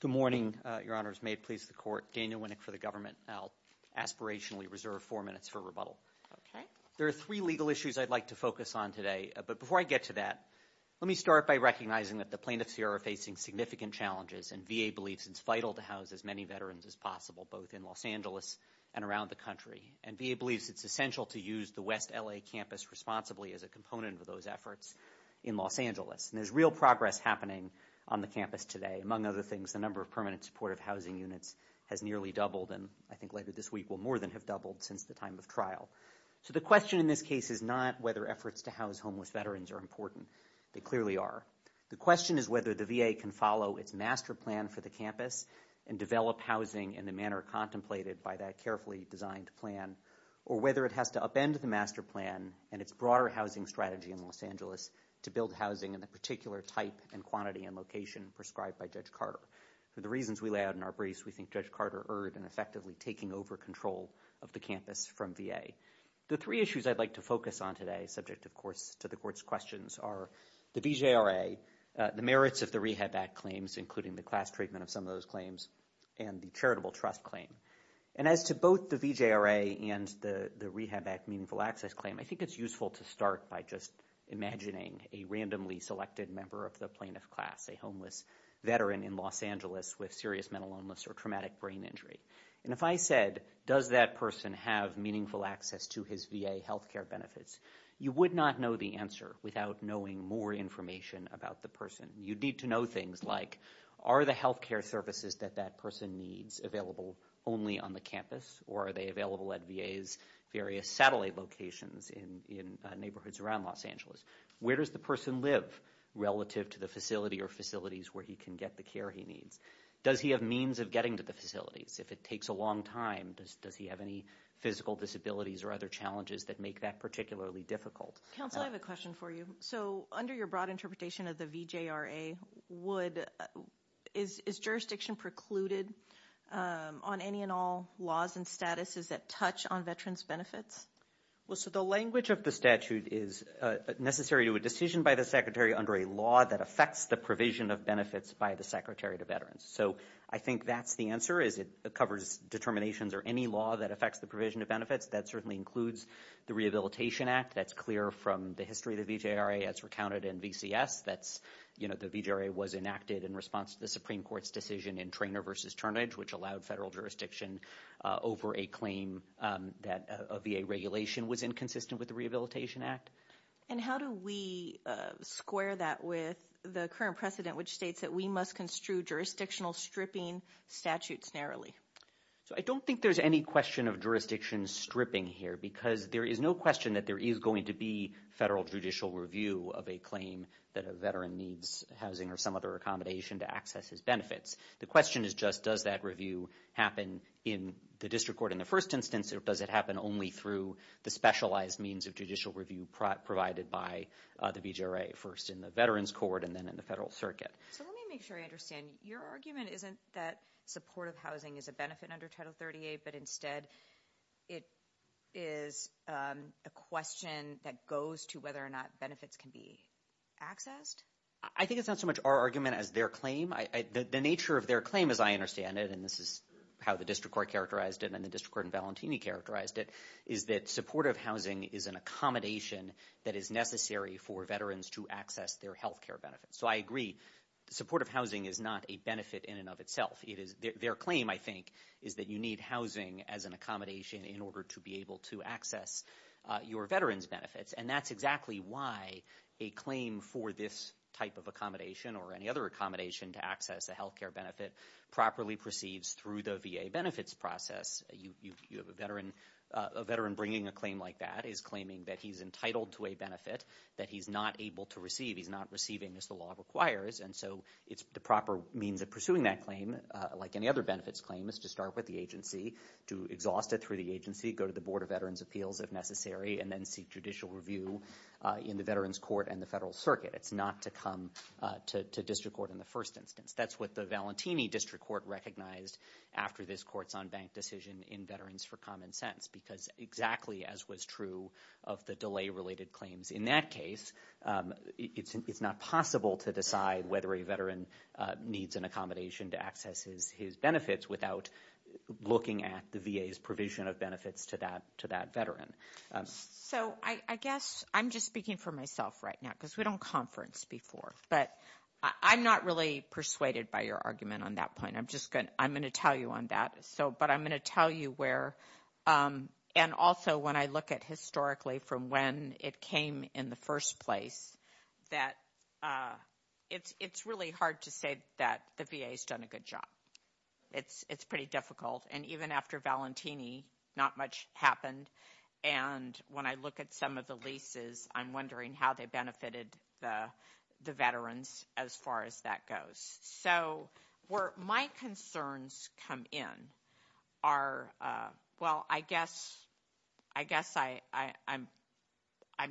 Good morning, your honors. May it please the court, Daniel Winnick for the government. I'll aspirationally reserve four minutes for rebuttal. There are three legal issues I'd like to focus on today. But before I get to that, let me start by recognizing that the plaintiffs here are facing significant challenges and VA believes it's vital to house as many veterans as possible, both in Los Angeles and around the country. And VA believes it's essential to use the West L.A. campus responsibly as a component of those efforts in Los Angeles. And there's real progress happening on the campus today. Among other things, the number of permanent supportive housing units has nearly doubled and I think later this week will more than have doubled since the time of trial. So the question in this case is not whether efforts to house homeless veterans are important. They clearly are. The question is whether the VA can follow its master plan for the campus and develop housing in the manner contemplated by that carefully designed plan or whether it has to upend the master plan and its broader housing strategy in Los Angeles to build housing in the particular type and quantity and location prescribed by Judge Carter. So the reasons we lay out in our briefs, we think Judge Carter erred in effectively taking over control of the campus from VA. The three issues I'd like to focus on today, subject of course to the court's questions, are the DJRA, the merits of the Rehab Act claims including the class treatment of some of those claims and the charitable trust claim. And as to both the VJRA and the Rehab Act Meaningful Access Claim, I think it's useful to start by just imagining a randomly selected member of the plaintiff's class, a homeless veteran in Los Angeles with serious mental illness or traumatic brain injury. And if I said, does that person have meaningful access to his VA health care benefits, you would not know the answer without knowing more information about the person. You'd need to know things like, are the health care services that that person needs available only on the campus or are they available at VA's various satellite locations in neighborhoods around Los Angeles? Where does the person live relative to the facility or facilities where he can get the care he needs? Does he have means of getting to the facilities? If it takes a long time, does he have any physical disabilities or other challenges that make that particularly difficult? I have a question for you. So under your broad interpretation of the VJRA, is jurisdiction precluded on any and all laws and statuses that touch on veterans' benefits? Well, so the language of the statute is necessary to a decision by the Secretary under a law that affects the provision of benefits by the Secretary to veterans. So I think that's the answer is it covers determinations or any law that affects the provision of benefits. That certainly includes the Rehabilitation Act. That's clear from the history of the VJRA as recounted in VCS. The VJRA was enacted in response to the Supreme Court's decision in Treynor v. Turnage, which allowed federal jurisdiction over a claim that a VA regulation was inconsistent with the Rehabilitation Act. And how do we square that with the current precedent, which states that we must construe jurisdictional stripping statutes narrowly? So I don't think there's any question of jurisdiction stripping here because there is no question that there is going to be federal judicial review of a claim that a veteran needs housing or some other accommodation to access his benefits. The question is just does that review happen in the district court in the first instance or does it happen only through the specialized means of judicial review provided by the VJRA, first in the Veterans Court and then in the federal circuit? Let me make sure I understand. Your argument isn't that supportive housing is a benefit under Title 38, but instead it is a question that goes to whether or not benefits can be accessed? I think it's not so much our argument as their claim. The nature of their claim, as I understand it, and this is how the district court characterized it and the district court in Valentini characterized it, is that supportive housing is an accommodation that is necessary for veterans to access their health care benefits. So I agree. Supportive housing is not a benefit in and of itself. Their claim, I think, is that you need housing as an accommodation in order to be able to access your veterans' benefits, and that's exactly why a claim for this type of accommodation or any other accommodation to access a health care benefit properly proceeds through the VA benefits process. A veteran bringing a claim like that is claiming that he's entitled to a benefit that he's not able to receive. He's not receiving as the law requires. And so the proper means of pursuing that claim, like any other benefits claim, is to start with the agency, to exhaust it for the agency, go to the Board of Veterans' Appeals if necessary, and then seek judicial review in the veterans' court and the federal circuit. It's not to come to district court in the first instance. That's what the Valentini district court recognized after this courts on bank decision in Veterans for Common Sense because exactly as was true of the delay-related claims in that case, it's not possible to decide whether a veteran needs an accommodation to access his benefits without looking at the VA's provision of benefits to that veteran. So I guess I'm just speaking for myself right now because we don't conference before, but I'm not really persuaded by your argument on that point. I'm going to tell you on that, but I'm going to tell you where. And also when I look at historically from when it came in the first place, that it's really hard to say that the VA has done a good job. It's pretty difficult. And even after Valentini, not much happened. And when I look at some of the leases, I'm wondering how they benefited the veterans as far as that goes. So where my concerns come in are, well, I guess I'm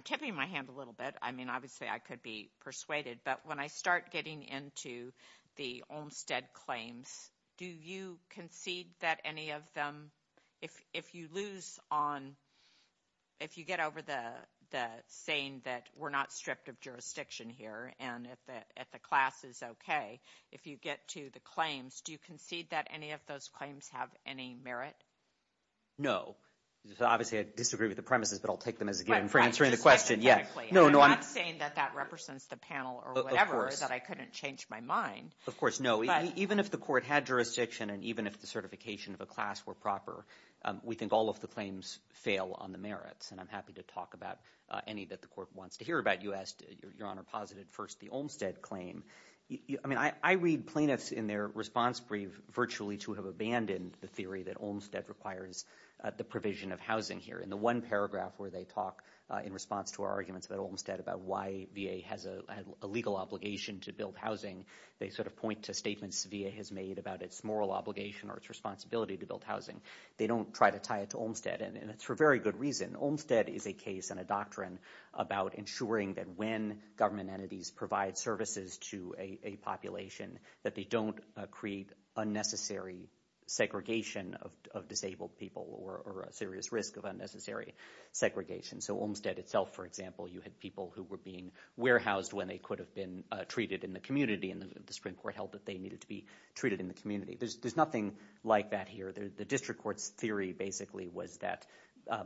tipping my hand a little bit. I mean, obviously I could be persuaded. But when I start getting into the Olmstead claims, do you concede that any of them, if you lose on – if you get over the saying that we're not stripped of jurisdiction here and that the class is okay, if you get to the claims, do you concede that any of those claims have any merit? No. Obviously I disagree with the premises, but I'll take them as a game for answering the question. I'm not saying that that represents the panel or whatever, that I couldn't change my mind. Of course, no. Even if the court had jurisdiction and even if the certification of the class were proper, we think all of the claims fail on the merits. And I'm happy to talk about any that the court wants to hear about. You asked, Your Honor, posited first the Olmstead claim. I mean, I read plaintiffs in their response brief virtually to have abandoned the theory that Olmstead requires the provision of housing here. In the one paragraph where they talk in response to our arguments about Olmstead, about why VA has a legal obligation to build housing, they sort of point to statements the VA has made about its moral obligation or its responsibility to build housing. They don't try to tie it to Olmstead, and it's for a very good reason. Olmstead is a case and a doctrine about ensuring that when government entities provide services to a population, that they don't create unnecessary segregation of disabled people or a serious risk of unnecessary segregation. So Olmstead itself, for example, you had people who were being warehoused when they could have been treated in the community, and the Supreme Court held that they needed to be treated in the community. There's nothing like that here. The district court's theory basically was that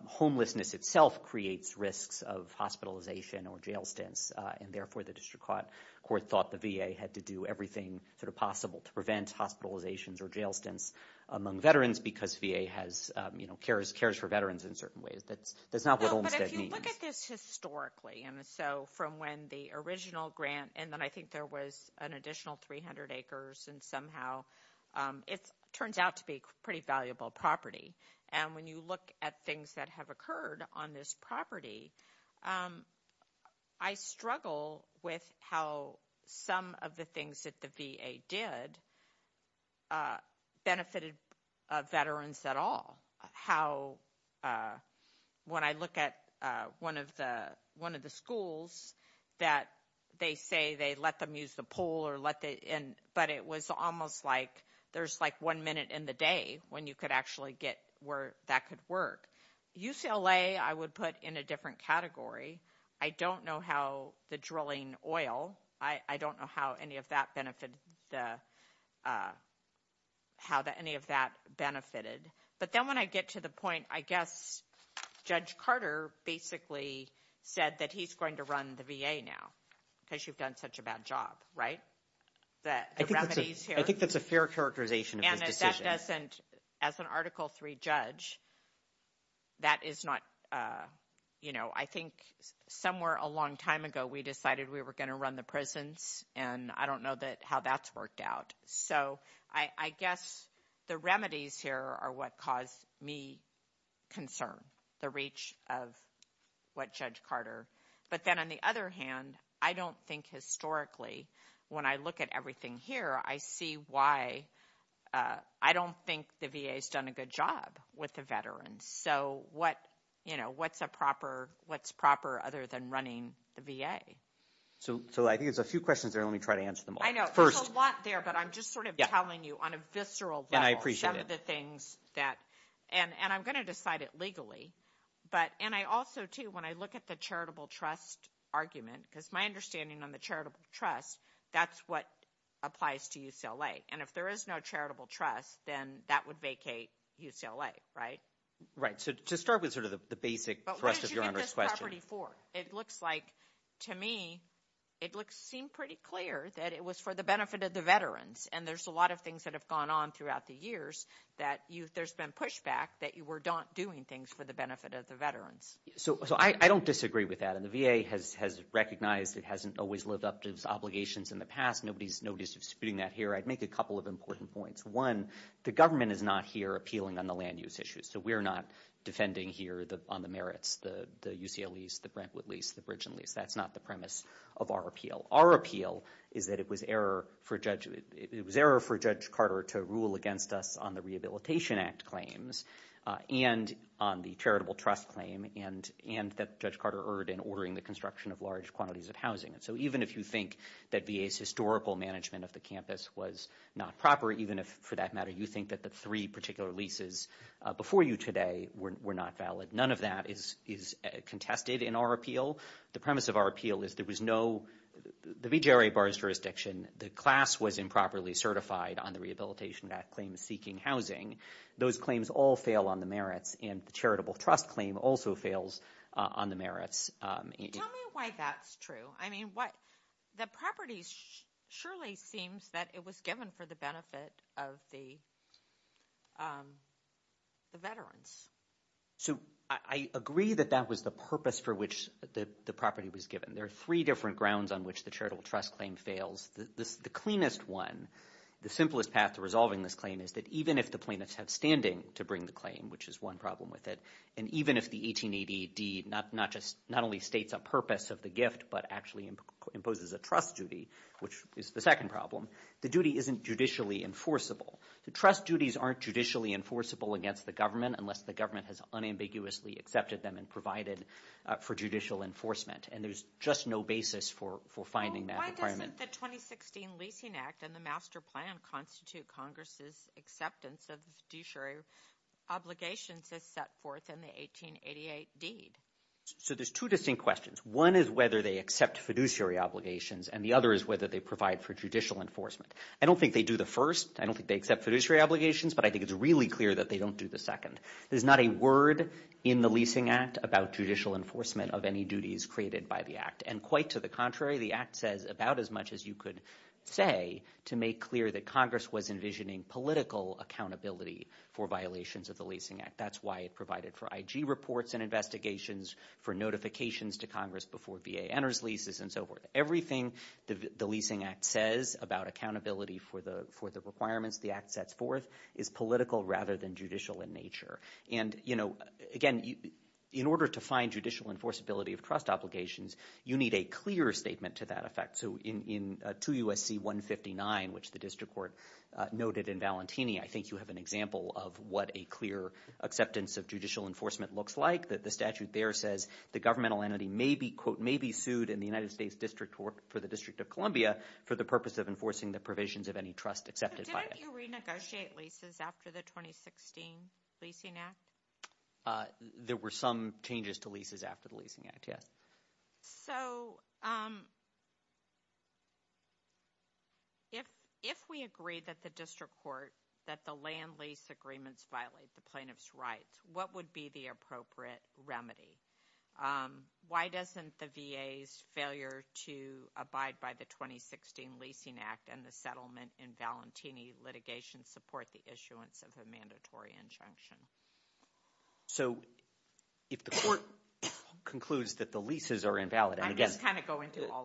homelessness itself creates risks of hospitalization or jail stints, and therefore the district court thought the VA had to do everything sort of possible to prevent hospitalizations or jail stints among veterans because VA cares for veterans in certain ways. That's not what Olmstead means. But if you look at this historically, and so from when the original grant – and then I think there was an additional 300 acres, and somehow it turns out to be a pretty valuable property. And when you look at things that have occurred on this property, I struggle with how some of the things that the VA did benefited veterans at all, how when I look at one of the schools that they say they let them use the pool, but it was almost like there's like one minute in the day when you could actually get where that could work. UCLA I would put in a different category. I don't know how the drilling oil – I don't know how any of that benefited. But then when I get to the point, I guess Judge Carter basically said that he's going to run the VA now because you've done such a bad job, right? I think that's a fair characterization. And that doesn't – as an Article III judge, that is not – I think somewhere a long time ago, we decided we were going to run the prisons, and I don't know how that's worked out. So I guess the remedies here are what cause me concern, the reach of what Judge Carter – but then on the other hand, I don't think historically, when I look at everything here, I see why I don't think the VA has done a good job with the veterans. So what's a proper – what's proper other than running the VA? So I think there's a few questions there. Let me try to answer them all. I know. There's a lot there, but I'm just sort of telling you on a visceral level. And I appreciate it. Some of the things that – and I'm going to decide it legally. But – and I also, too, when I look at the charitable trust argument, because my understanding on the charitable trust, that's what applies to UCLA. And if there is no charitable trust, then that would vacate UCLA, right? Right. So to start with sort of the basic thrust of Your Honor's question. But what is this property for? It looks like – to me, it seemed pretty clear that it was for the benefit of the veterans. And there's a lot of things that have gone on throughout the years that there's been pushback that you were not doing things for the benefit of the veterans. So I don't disagree with that. And the VA has recognized it hasn't always lived up to its obligations in the past. Nobody's disputing that here. I'd make a couple of important points. One, the government is not here appealing on the land use issues. So we're not defending here on the merits, the UCLA lease, the Brentwood lease, the Bridgeton lease. That's not the premise of our appeal. Our appeal is that it was error for Judge – it was error for Judge Carter to rule against us on the Rehabilitation Act claims and on the charitable trust claim and that Judge Carter erred in ordering the construction of large quantities of housing. So even if you think that VA's historical management of the campus was not proper, even if for that matter you think that the three particular leases before you today were not valid, none of that is contested in our appeal. The premise of our appeal is there was no – the VJRA bar's jurisdiction, the class was improperly certified on the Rehabilitation Act claims seeking housing. Those claims all fail on the merits, and the charitable trust claim also fails on the merits. Tell me why that's true. I mean, the property surely seems that it was given for the benefit of the veterans. So I agree that that was the purpose for which the property was given. There are three different grounds on which the charitable trust claim fails. The cleanest one, the simplest path to resolving this claim, is that even if the plaintiff had standing to bring the claim, which is one problem with it, and even if the 1880 deed not only states a purpose of the gift but actually imposes a trust duty, which is the second problem, the duty isn't judicially enforceable. The trust duties aren't judicially enforceable against the government unless the government has unambiguously accepted them and provided for judicial enforcement, and there's just no basis for finding that requirement. Why doesn't the 2016 Leasing Act and the Master Plan constitute Congress' acceptance of fiduciary obligations that set forth in the 1888 deed? So there's two distinct questions. One is whether they accept fiduciary obligations, and the other is whether they provide for judicial enforcement. I don't think they do the first. I don't think they accept fiduciary obligations, but I think it's really clear that they don't do the second. There's not a word in the Leasing Act about judicial enforcement of any duties created by the Act, and quite to the contrary, the Act says about as much as you could say to make clear that Congress was envisioning political accountability for violations of the Leasing Act. That's why it provided for IG reports and investigations, for notifications to Congress before VA enters leases and so forth. Everything the Leasing Act says about accountability for the requirements the Act sets forth is political rather than judicial in nature. Again, in order to find judicial enforceability of trust obligations, you need a clear statement to that effect. So in 2 U.S.C. 159, which the district court noted in Valentini, I think you have an example of what a clear acceptance of judicial enforcement looks like. The statute there says the governmental entity may be, quote, may be sued in the United States District Court for the District of Columbia for the purpose of enforcing the provisions of any trust accepted by it. Didn't you renegotiate leases after the 2016 Leasing Act? There were some changes to leases after the Leasing Act, yes. So if we agree that the district court, that the land lease agreements violate the plaintiff's rights, what would be the appropriate remedy? Why doesn't the VA's failure to abide by the 2016 Leasing Act and the settlement in Valentini litigation support the issuance of a mandatory injunction? So if the court concludes that the leases are invalid, and again,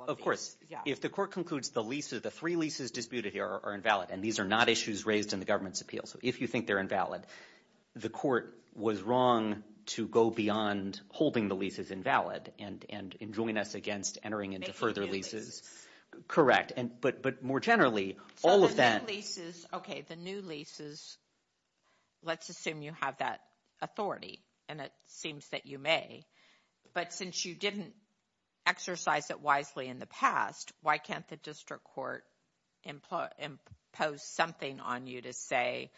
of course, if the court concludes the leases, the three leases disputed here are invalid and these are not issues raised in the government's appeal, so if you think they're invalid, the court was wrong to go beyond holding the leases invalid and join us against entering into further leases. Correct, but more generally, all of that… Okay, the new leases, let's assume you have that authority, and it seems that you may, but since you didn't exercise it wisely in the past, why can't the district court impose something on you to say,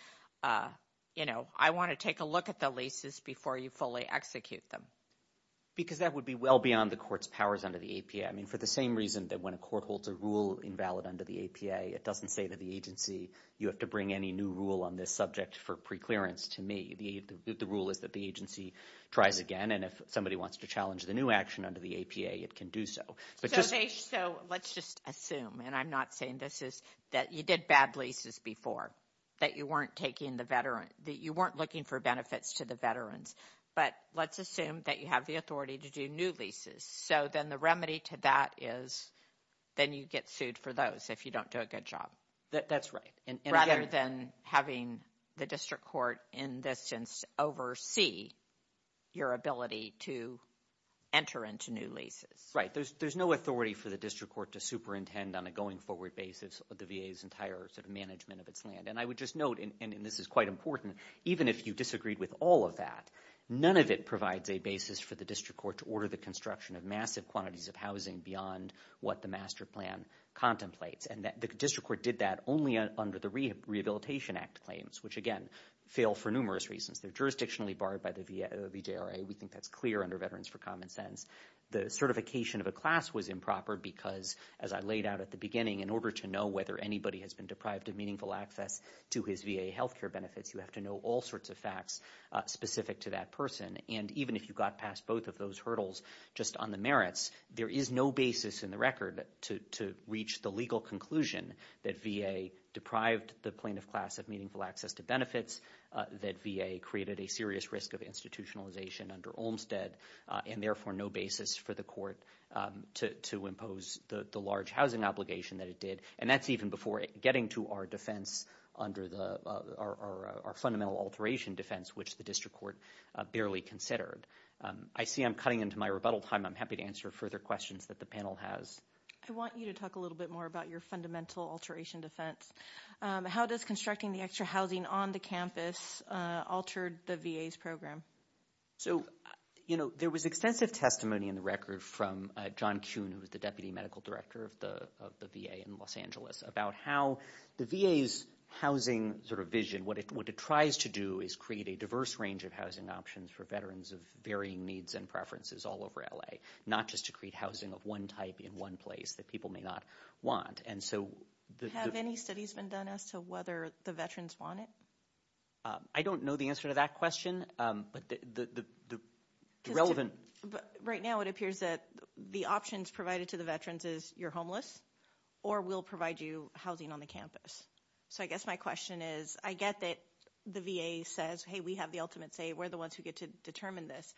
you know, I want to take a look at the leases before you fully execute them? Because that would be well beyond the court's powers under the APA. I mean, for the same reason that when a court holds a rule invalid under the APA, it doesn't say to the agency, you have to bring any new rule on this subject for preclearance to me. The rule is that the agency tries again, and if somebody wants to challenge the new action under the APA, it can do so. Okay, so let's just assume, and I'm not saying this is that you did bad leases before, that you weren't looking for benefits to the veterans, but let's assume that you have the authority to do new leases, so then the remedy to that is then you get sued for those if you don't do a good job. That's right. Rather than having the district court in this instance oversee your ability to enter into new leases. Right. There's no authority for the district court to superintend on a going forward basis of the VA's entire sort of management of its land. And I would just note, and this is quite important, even if you disagreed with all of that, none of it provides a basis for the district court to order the construction of massive quantities of housing beyond what the master plan contemplates. And the district court did that only under the Rehabilitation Act claims, which again fail for numerous reasons. They're jurisdictionally barred by the VJRA. We think that's clear under Veterans for Common Sense. The certification of a class was improper because, as I laid out at the beginning, in order to know whether anybody has been deprived of meaningful access to his VA health care benefits, you have to know all sorts of facts specific to that person. And even if you got past both of those hurdles just on the merits, there is no basis in the record to reach the legal conclusion that VA deprived the plaintiff class of meaningful access to benefits, that VA created a serious risk of institutionalization under Olmstead, and therefore no basis for the court to impose the large housing obligation that it did. And that's even before getting to our defense under our fundamental alteration defense, which the district court barely considered. I see I'm cutting into my rebuttal time. I'm happy to answer further questions that the panel has. I want you to talk a little bit more about your fundamental alteration defense. How does constructing the extra housing on the campus alter the VA's program? So, you know, there was extensive testimony in the record from John Kuhn, who was the deputy medical director of the VA in Los Angeles, about how the VA's housing sort of vision, what it tries to do is create a diverse range of housing options for veterans of varying needs and preferences all over L.A., not just to create housing of one type in one place that people may not want. Have any studies been done as to whether the veterans want it? I don't know the answer to that question, but the relevant. Right now it appears that the options provided to the veterans is you're homeless or we'll provide you housing on the campus. So I guess my question is I get that the VA says, hey, we have the ultimate say. We're the ones who get to determine this.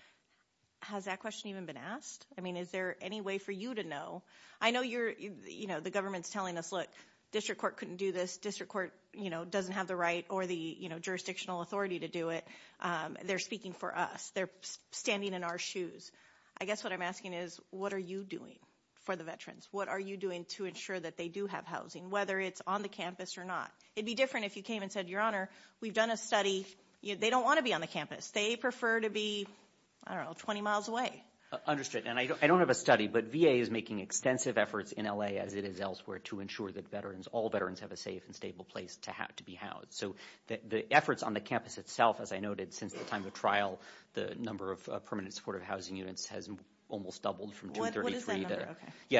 Has that question even been asked? I mean, is there any way for you to know? I know you're, you know, the government's telling us, look, district court couldn't do this. District court, you know, doesn't have the right or the jurisdictional authority to do it. They're speaking for us. They're standing in our shoes. I guess what I'm asking is what are you doing for the veterans? What are you doing to ensure that they do have housing, whether it's on the campus or not? It would be different if you came and said, Your Honor, we've done a study. They don't want to be on the campus. They prefer to be, I don't know, 20 miles away. Understood. And I don't have a study, but VA is making extensive efforts in L.A. as it is elsewhere to ensure that veterans, all veterans have a safe and stable place to be housed. So the efforts on the campus itself, as I noted, since the time of trial, the number of permanent supportive housing units has almost doubled from 233.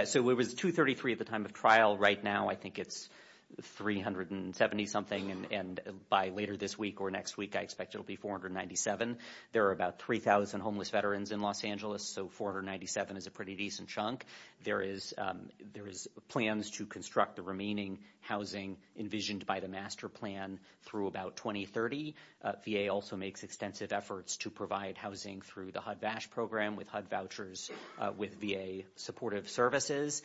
So it was 233 at the time of trial. Right now I think it's 370-something, and by later this week or next week I expect it will be 497. There are about 3,000 homeless veterans in Los Angeles, so 497 is a pretty decent chunk. There is plans to construct the remaining housing envisioned by the master plan through about 2030. VA also makes extensive efforts to provide housing through the HUD-BASH program with HUD vouchers with VA supportive services.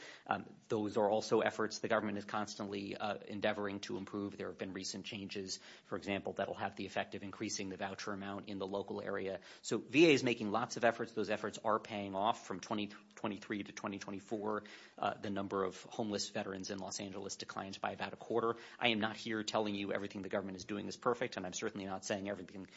Those are also efforts the government is constantly endeavoring to improve. There have been recent changes, for example, that will have the effect of increasing the voucher amount in the local area. So VA is making lots of efforts. Those efforts are paying off from 2023 to 2024. The number of homeless veterans in Los Angeles declines by about a quarter. I am not here telling you everything the government is doing is perfect, and I'm certainly not saying everything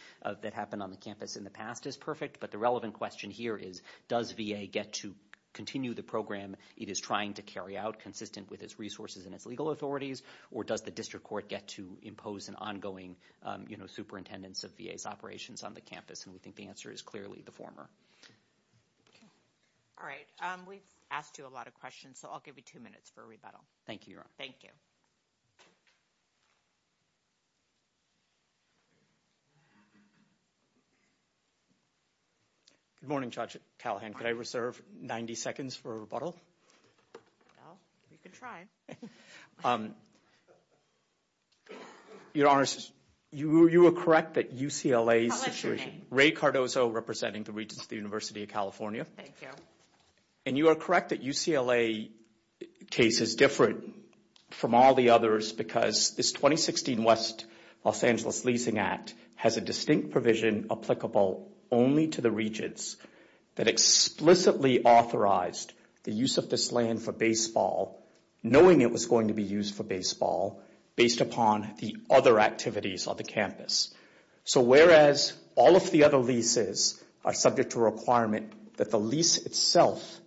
that happened on the campus in the past is perfect, but the relevant question here is does VA get to continue the program it is trying to carry out, consistent with its resources and its legal authorities, or does the district court get to impose an ongoing superintendence of VA's operations on the campus? And we think the answer is clearly the former. All right. We've asked you a lot of questions, so I'll give you two minutes for a rebuttal. Thank you, Your Honor. Thank you. Good morning, Judge Callahan. Could I reserve 90 seconds for a rebuttal? Well, you can try. Your Honor, you were correct that UCLA's Ray Cardozo, representing the Regents of the University of California, and you are correct that UCLA's case is different from all the others because this 2016 West Los Angeles Leasing Act has a distinct provision applicable only to the regents that explicitly authorized the use of this land for baseball, knowing it was going to be used for baseball, based upon the other activities on the campus. So whereas all of the other leases are subject to a requirement that the lease itself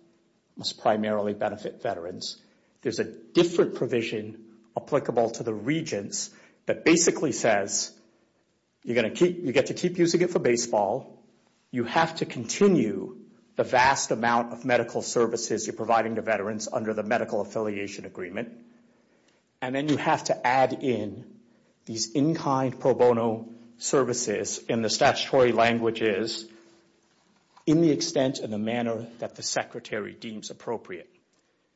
must primarily benefit veterans, there's a different provision applicable to the regents that basically says you get to keep using it for baseball, you have to continue the vast amount of medical services you're providing to veterans under the medical affiliation agreement, and then you have to add in these in-kind pro bono services in the statutory languages in the extent and the manner that the Secretary deems appropriate.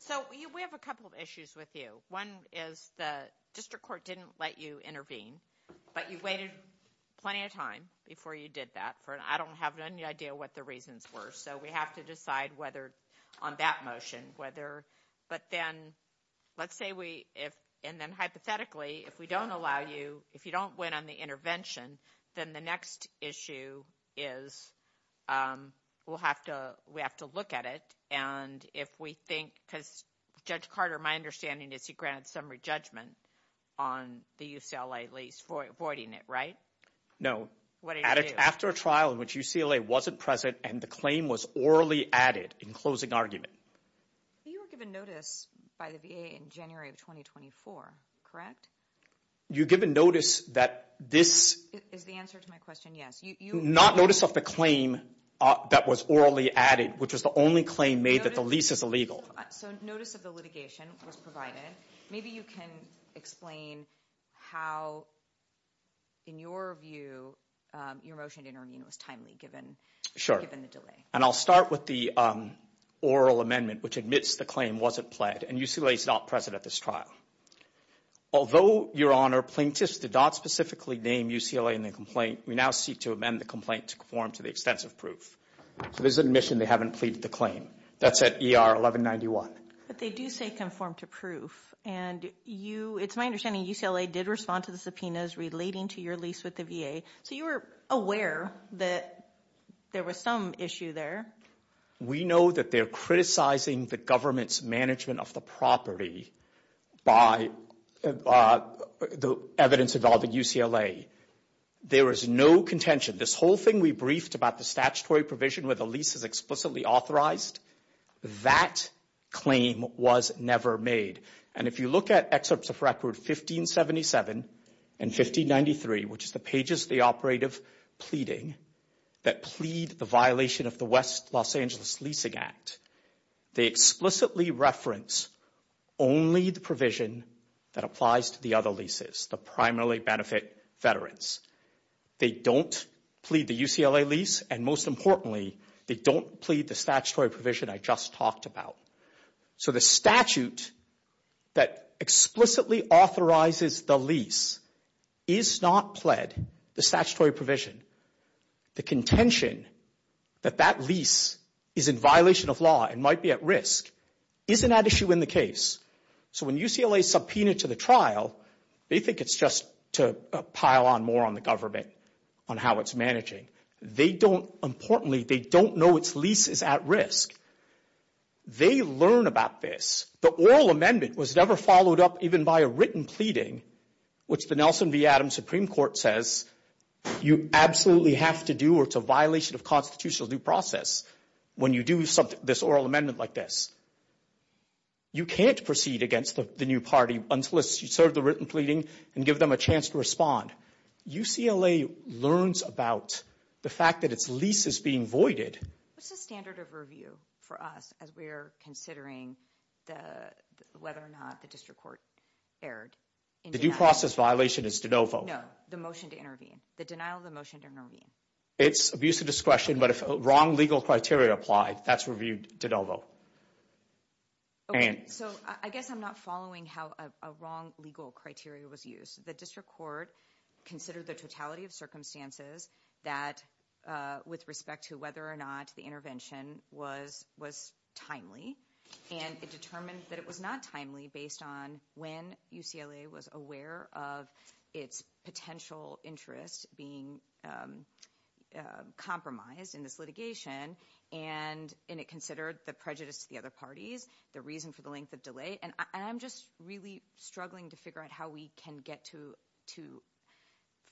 So we have a couple of issues with you. One is the district court didn't let you intervene, but you waited plenty of time before you did that. I don't have any idea what the reasons were, so we have to decide whether on that motion, but then let's say we, and then hypothetically, if we don't allow you, if you don't win on the intervention, then the next issue is we'll have to look at it, and if we think, because Judge Carter, my understanding is you grant summary judgment on the UCLA lease for avoiding it, right? No. After a trial in which UCLA wasn't present and the claim was orally added in closing argument. You were given notice by the VA in January of 2024, correct? You're given notice that this — Is the answer to my question yes? Not notice of the claim that was orally added, which is the only claim made that the lease is illegal. So notice of the litigation was provided. Maybe you can explain how, in your view, your motion to intervene was timely given the delay. Sure, and I'll start with the oral amendment, which admits the claim wasn't pled, and UCLA is not present at this trial. Although, Your Honor, plaintiffs did not specifically name UCLA in the complaint, we now seek to amend the complaint to conform to the extensive proof. So there's an admission they haven't pleaded the claim. That's at ER 1191. But they do say conform to proof, and you — It's my understanding UCLA did respond to the subpoenas relating to your lease with the VA. So you were aware that there was some issue there. We know that they're criticizing the government's management of the property by the evidence involved at UCLA. There is no contention. This whole thing we briefed about the statutory provision where the lease is explicitly authorized, that claim was never made. And if you look at excerpts of Record 1577 and 1593, which is the pages of the operative pleading that plead the violation of the West Los Angeles Leasing Act, they explicitly reference only the provision that applies to the other leases, the primarily benefit veterans. They don't plead the UCLA lease. And most importantly, they don't plead the statutory provision I just talked about. So the statute that explicitly authorizes the lease is not pled the statutory provision. The contention that that lease is in violation of law and might be at risk isn't at issue in the case. So when UCLA subpoenaed to the trial, they think it's just to pile on more on the government on how it's managing. Importantly, they don't know its lease is at risk. They learn about this. The oral amendment was never followed up even by a written pleading, which the Nelson v. Adams Supreme Court says you absolutely have to do or it's a violation of constitutional due process when you do this oral amendment like this. You can't proceed against the new party unless you serve the written pleading and give them a chance to respond. UCLA learns about the fact that its lease is being voided. What's the standard of review for us as we're considering whether or not the district court fared in denial? The due process violation is de novo. No, the motion to intervene, the denial of the motion to intervene. It's abuse of discretion, but if wrong legal criteria apply, that's reviewed de novo. So I guess I'm not following how a wrong legal criteria was used. The district court considered the totality of circumstances that with respect to whether or not the intervention was timely, and it determined that it was not timely based on when UCLA was aware of its potential interest being compromised in this litigation, and it considered the prejudice of the other parties, the reason for the length of delay. I'm just really struggling to figure out how we can get to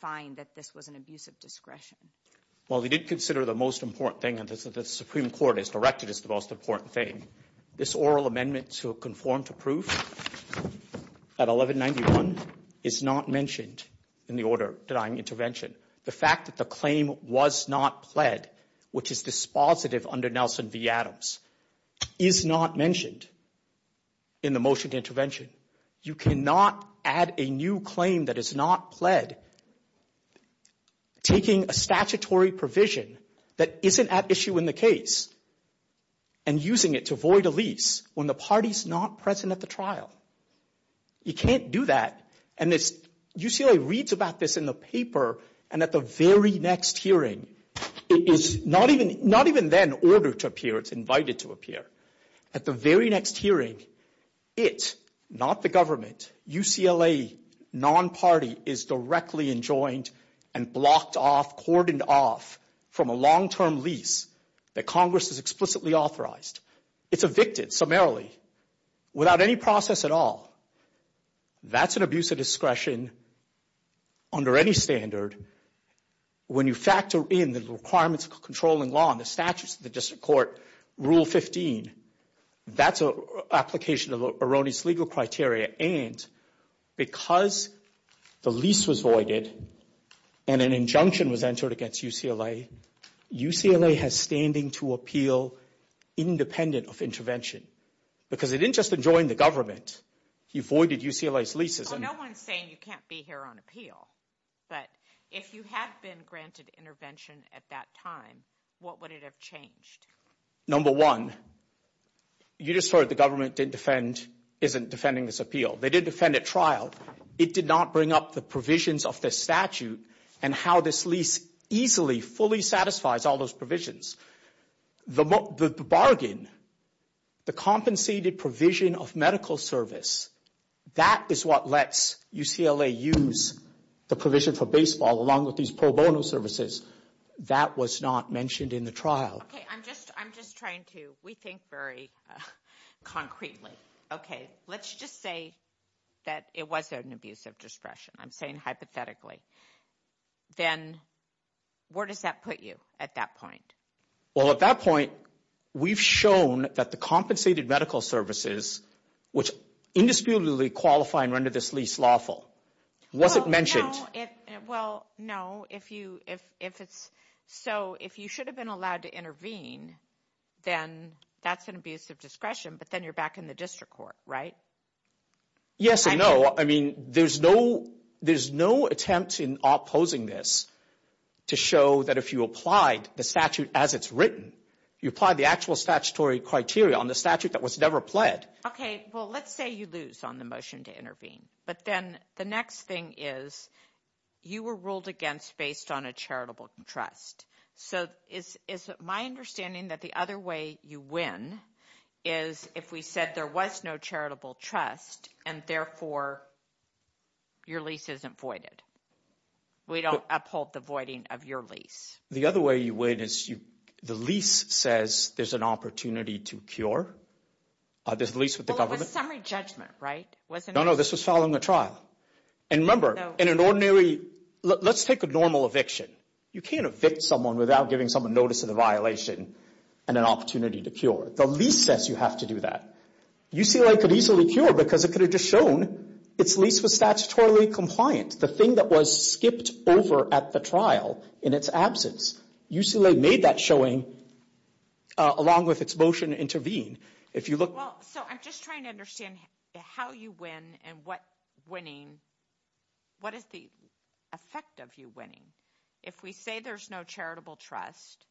find that this was an abuse of discretion. Well, we did consider the most important thing, and the Supreme Court has directed as the most important thing. This oral amendment to conform to proof at 1191 is not mentioned in the order denying intervention. The fact that the claim was not pled, which is dispositive under Nelson v. Adams, is not mentioned in the motion to intervention. You cannot add a new claim that is not pled taking a statutory provision that isn't at issue in the case and using it to void a lease when the party is not present at the trial. You can't do that, and UCLA reads about this in the paper, and at the very next hearing, it is not even then ordered to appear. It's invited to appear. At the very next hearing, it, not the government, UCLA non-party is directly enjoined and blocked off, cordoned off from a long-term lease that Congress has explicitly authorized. It's evicted summarily without any process at all. That's an abuse of discretion under any standard. When you factor in the requirements of controlling law and the statutes of the district court, Rule 15, that's an application of erroneous legal criteria, and because the lease was voided and an injunction was entered against UCLA, UCLA has standing to appeal independent of intervention because it didn't just enjoin the government. It voided UCLA's leases. No one is saying you can't be here on appeal, but if you had been granted intervention at that time, what would it have changed? Number one, you just heard the government didn't defend, isn't defending this appeal. They did defend at trial. It did not bring up the provisions of the statute and how this lease easily, fully satisfies all those provisions. The bargain, the compensated provision of medical service, that is what lets UCLA use the provision for baseball along with these pro bono services. That was not mentioned in the trial. Okay, I'm just trying to rethink very concretely. Okay, let's just say that it was an abuse of discretion. I'm saying hypothetically. Then where does that put you at that point? Well, at that point, we've shown that the compensated medical services, which indisputably qualify and render this lease lawful, wasn't mentioned. Well, no. So if you should have been allowed to intervene, then that's an abuse of discretion, but then you're back in the district court, right? Yes and no. Well, I mean, there's no attempt in opposing this to show that if you applied the statute as it's written, you applied the actual statutory criteria on the statute that was never applied. Okay, well, let's say you lose on the motion to intervene, but then the next thing is you were ruled against based on a charitable trust. So is it my understanding that the other way you win is if we said there was no charitable trust and, therefore, your lease isn't voided? We don't uphold the voiding of your lease. The other way you win is the lease says there's an opportunity to cure. Well, it was a summary judgment, right? No, no, this was following a trial. And remember, in an ordinary – let's take a normal eviction. You can't evict someone without giving someone notice of the violation and an opportunity to cure. The lease says you have to do that. UCLA could easily cure because it could have just shown its lease was statutorily compliant. The thing that was skipped over at the trial in its absence, UCLA made that showing along with its motion to intervene. So I'm just trying to understand how you win and what is the effect of you winning. If we say there's no charitable trust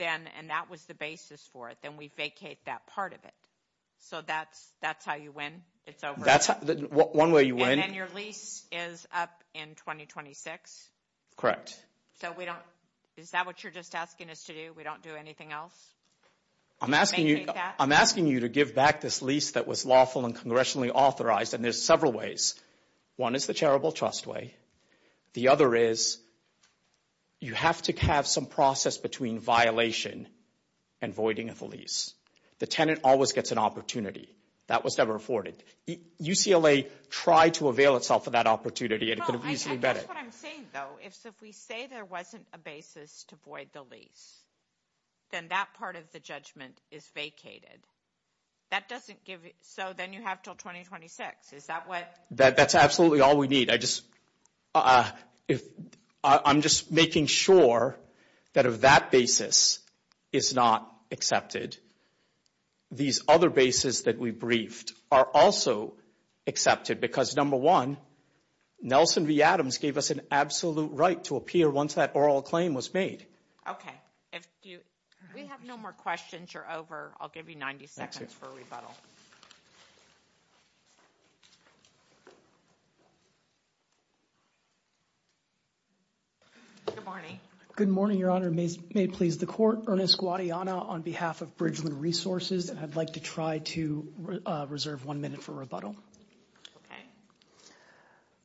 and that was the basis for it, then we vacate that part of it. So that's how you win? It's over? One way you win. And your lease is up in 2026? Correct. So we don't – is that what you're just asking us to do? We don't do anything else? I'm asking you to give back this lease that was lawful and congressionally authorized, and there's several ways. One is the charitable trust way. The other is you have to have some process between violation and voiding of the lease. The tenant always gets an opportunity. That was never afforded. UCLA tried to avail itself of that opportunity. That's what I'm saying, though. If we say there wasn't a basis to void the lease, then that part of the judgment is vacated. So then you have until 2026. Is that what – That's absolutely all we need. I just – I'm just making sure that that basis is not accepted. These other bases that we briefed are also accepted because, number one, Nelson V. Adams gave us an absolute right to appear once that oral claim was made. Okay. If you – if we have no more questions, you're over. I'll give you 90 seconds for a rebuttal. Good morning. Good morning, Your Honor. May it please the court. Ernest Guadiana on behalf of Bridgeland Resources, and I'd like to try to reserve one minute for rebuttal. Okay.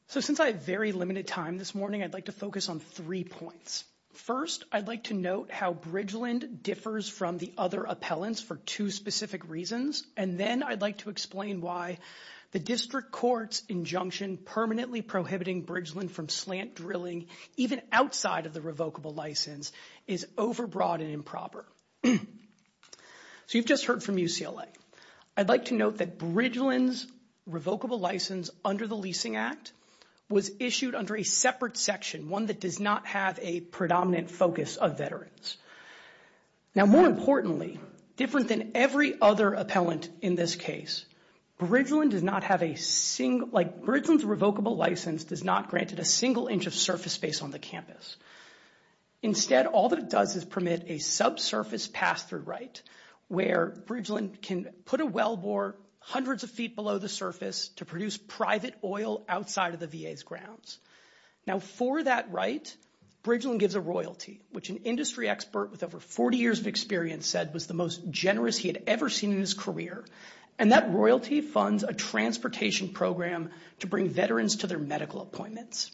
So since I have very limited time this morning, I'd like to focus on three points. First, I'd like to note how Bridgeland differs from the other appellants for two specific reasons, and then I'd like to explain why the district court's injunction permanently prohibiting Bridgeland from slant drilling even outside of the revocable license is overbroad and improper. So you've just heard from UCLA. I'd like to note that Bridgeland's revocable license under the Leasing Act was issued under a separate section, one that does not have a predominant focus of veterans. Now, more importantly, different than every other appellant in this case, Bridgeland's revocable license does not grant it a single inch of surface space on the campus. Instead, all that it does is permit a subsurface pass-through right where Bridgeland can put a wellbore hundreds of feet below the surface to produce private oil outside of the VA's grounds. Now, for that right, Bridgeland gives a royalty, which an industry expert with over 40 years of experience said was the most generous he had ever seen in his career, and that royalty funds a transportation program to bring veterans to their medical appointments.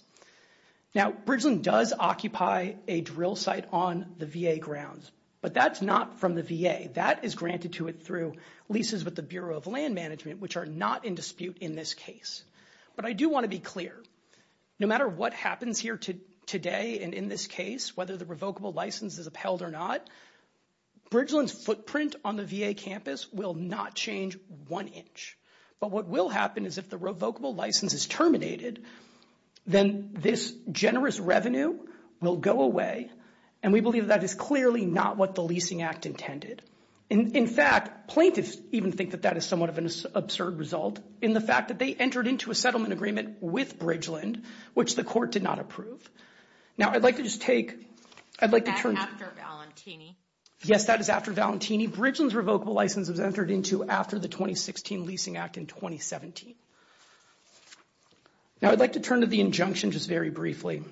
Now, Bridgeland does occupy a drill site on the VA grounds, but that's not from the VA. That is granted to it through leases with the Bureau of Land Management, which are not in dispute in this case. But I do want to be clear. No matter what happens here today and in this case, whether the revocable license is upheld or not, Bridgeland's footprint on the VA campus will not change one inch. But what will happen is if the revocable license is terminated, then this generous revenue will go away, and we believe that is clearly not what the Leasing Act intended. In fact, plaintiffs even think that that is somewhat of an absurd result in the fact that they entered into a settlement agreement with Bridgeland, which the court did not approve. Now, I'd like to just take – I'd like to turn – That's after Valentini. Yes, that is after Valentini. Bridgeland's revocable license was entered into after the 2016 Leasing Act in 2017. Now, I'd like to turn to the injunction just very briefly.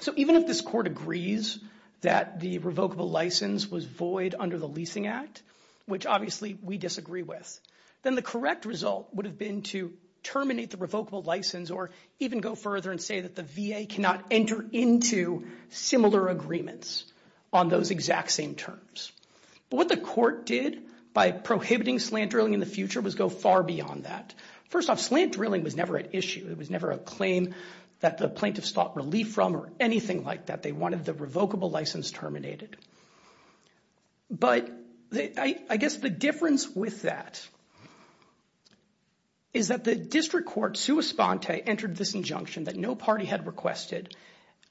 So even if this court agrees that the revocable license was void under the Leasing Act, which obviously we disagree with, then the correct result would have been to terminate the revocable license or even go further and say that the VA cannot enter into similar agreements on those exact same terms. But what the court did by prohibiting slant drilling in the future was go far beyond that. First off, slant drilling was never an issue. It was never a claim that the plaintiffs sought relief from or anything like that. They wanted the revocable license terminated. But I guess the difference with that is that the district court, sua sponte, entered this injunction that no party had requested,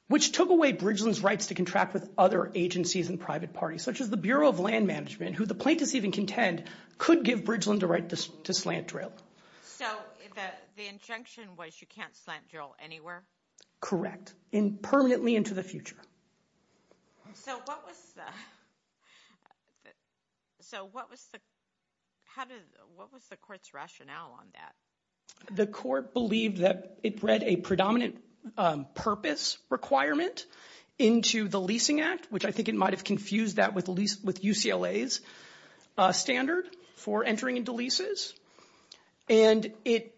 which took away Bridgeland's rights to contract with other agencies and private parties, such as the Bureau of Land Management, who the plaintiffs even contend could give Bridgeland the right to slant drill. So the injunction was you can't slant drill anywhere? Correct, and permanently into the future. So what was the court's rationale on that? The court believed that it read a predominant purpose requirement into the Leasing Act, which I think it might have confused that with UCLA's standard for entering into leases. And it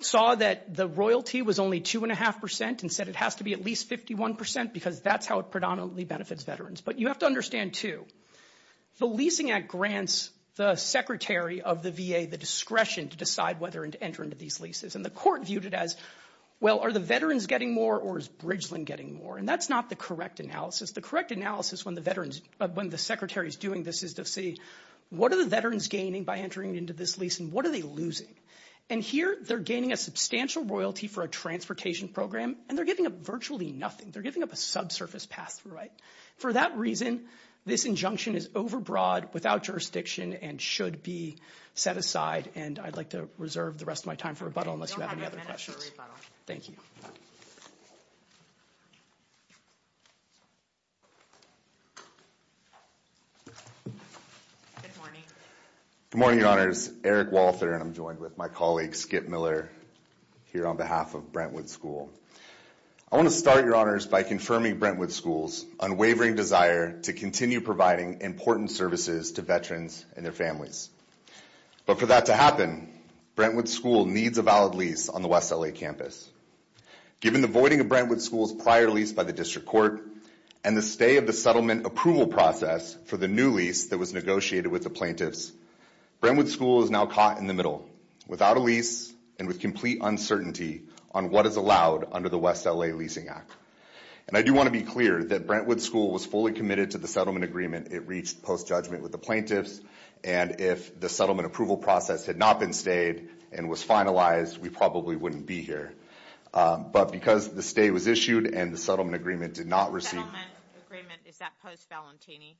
saw that the royalty was only 2.5% and said it has to be at least 51% because that's how it predominantly benefits veterans. But you have to understand, too, the Leasing Act grants the secretary of the VA the discretion to decide whether to enter into these leases. And the court viewed it as, well, are the veterans getting more or is Bridgeland getting more? And that's not the correct analysis. The correct analysis when the secretary is doing this is to see what are the veterans gaining by entering into this lease and what are they losing? And here they're gaining a substantial royalty for a transportation program, and they're giving up virtually nothing. They're giving up a subsurface pathway. For that reason, this injunction is overbroad, without jurisdiction, and should be set aside. And I'd like to reserve the rest of my time for rebuttal unless you have any other questions. Thank you. Good morning, Your Honors. My name is Eric Walter, and I'm joined with my colleague Skip Miller here on behalf of Brentwood School. I want to start, Your Honors, by confirming Brentwood School's unwavering desire to continue providing important services to veterans and their families. But for that to happen, Brentwood School needs a valid lease on the West L.A. campus. Given the voiding of Brentwood School's prior lease by the district court and the stay of the settlement approval process for the new lease that was negotiated with the plaintiffs, Brentwood School is now caught in the middle, without a lease, and with complete uncertainty on what is allowed under the West L.A. Leasing Act. And I do want to be clear that Brentwood School was fully committed to the settlement agreement it reached post-judgment with the plaintiffs, and if the settlement approval process had not been stayed and was finalized, we probably wouldn't be here. But because the stay was issued and the settlement agreement did not receive – The settlement agreement, is that post-Valentini?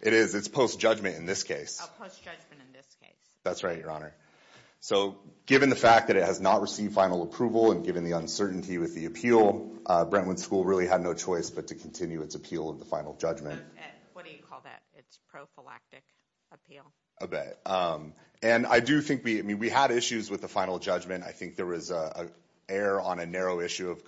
It is. It's post-judgment in this case. That's right, Your Honor. So given the fact that it has not received final approval and given the uncertainty with the appeal, Brentwood School really had no choice but to continue its appeal of the final judgment. What do you call that? It's prophylactic appeal. Okay. And I do think we – I mean, we had issues with the final judgment. I think there was an error on a narrow issue of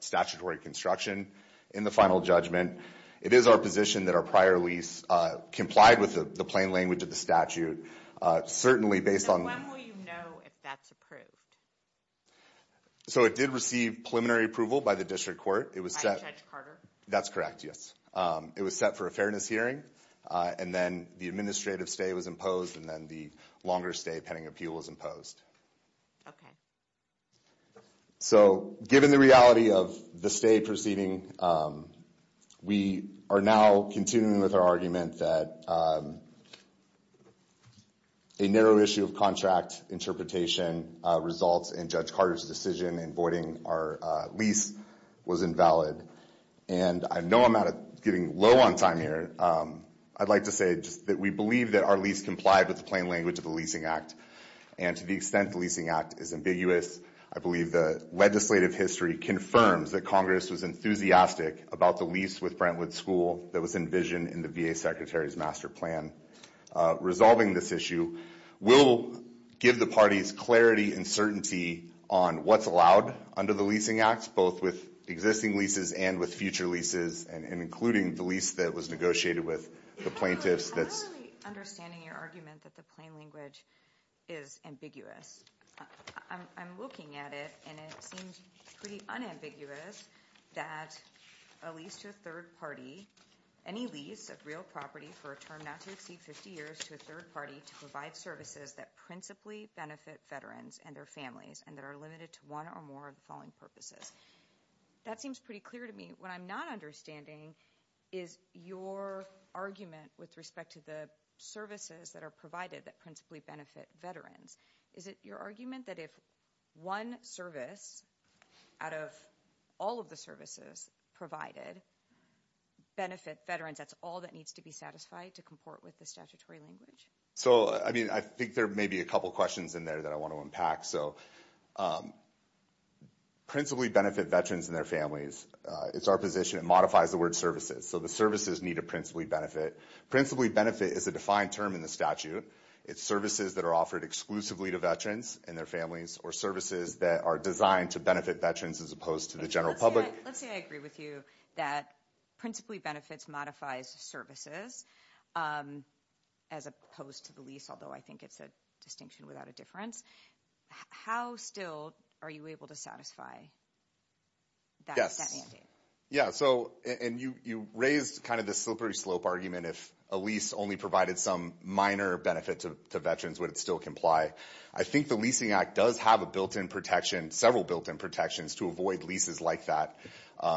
statutory construction in the final judgment. It is our position that our prior lease complied with the plain language of the settlement agreement and the statute, certainly based on – And when will you know if that's approved? So it did receive preliminary approval by the district court. By Judge Carter? That's correct, yes. It was set for a fairness hearing, and then the administrative stay was imposed, and then the longer stay pending appeal was imposed. Okay. So given the reality of the stay proceeding, we are now continuing with our argument that a narrow issue of contract interpretation results in Judge Carter's decision in voiding our lease was invalid. And I know I'm not getting low on time here. I'd like to say that we believe that our lease complied with the plain language of the Leasing Act, and to the extent the Leasing Act is ambiguous, I believe the legislative history confirms that Congress was enthusiastic about the lease with Brentwood School that was envisioned in the VA Secretary's master plan. Resolving this issue will give the parties clarity and certainty on what's allowed under the Leasing Act, both with existing leases and with future leases, and including the lease that was negotiated with the plaintiffs. I'm not really understanding your argument that the plain language is ambiguous. I'm looking at it, and it seems pretty unambiguous that a lease to a third party, any lease of real property for a term not to exceed 50 years to a third party to provide services that principally benefit veterans and their families and that are limited to one or more of the following purposes. That seems pretty clear to me. What I'm not understanding is your argument with respect to the services that are provided that principally benefit veterans. Is it your argument that if one service out of all of the services provided benefit veterans, that's all that needs to be satisfied to comport with the statutory language? I think there may be a couple questions in there that I want to unpack. Principally benefit veterans and their families, it's our position it modifies the word services. So the services need a principally benefit. Principally benefit is a defined term in the statute. It's services that are offered exclusively to veterans and their families or services that are designed to benefit veterans as opposed to the general public. Let's say I agree with you that principally benefits modifies services as opposed to the lease, although I think it's a distinction without a difference. How still are you able to satisfy that mandate? Yeah, so you raised kind of a slippery slope argument. If a lease only provided some minor benefit to veterans, would it still comply? I think the Leasing Act does have a built-in protection, several built-in protections to avoid leases like that.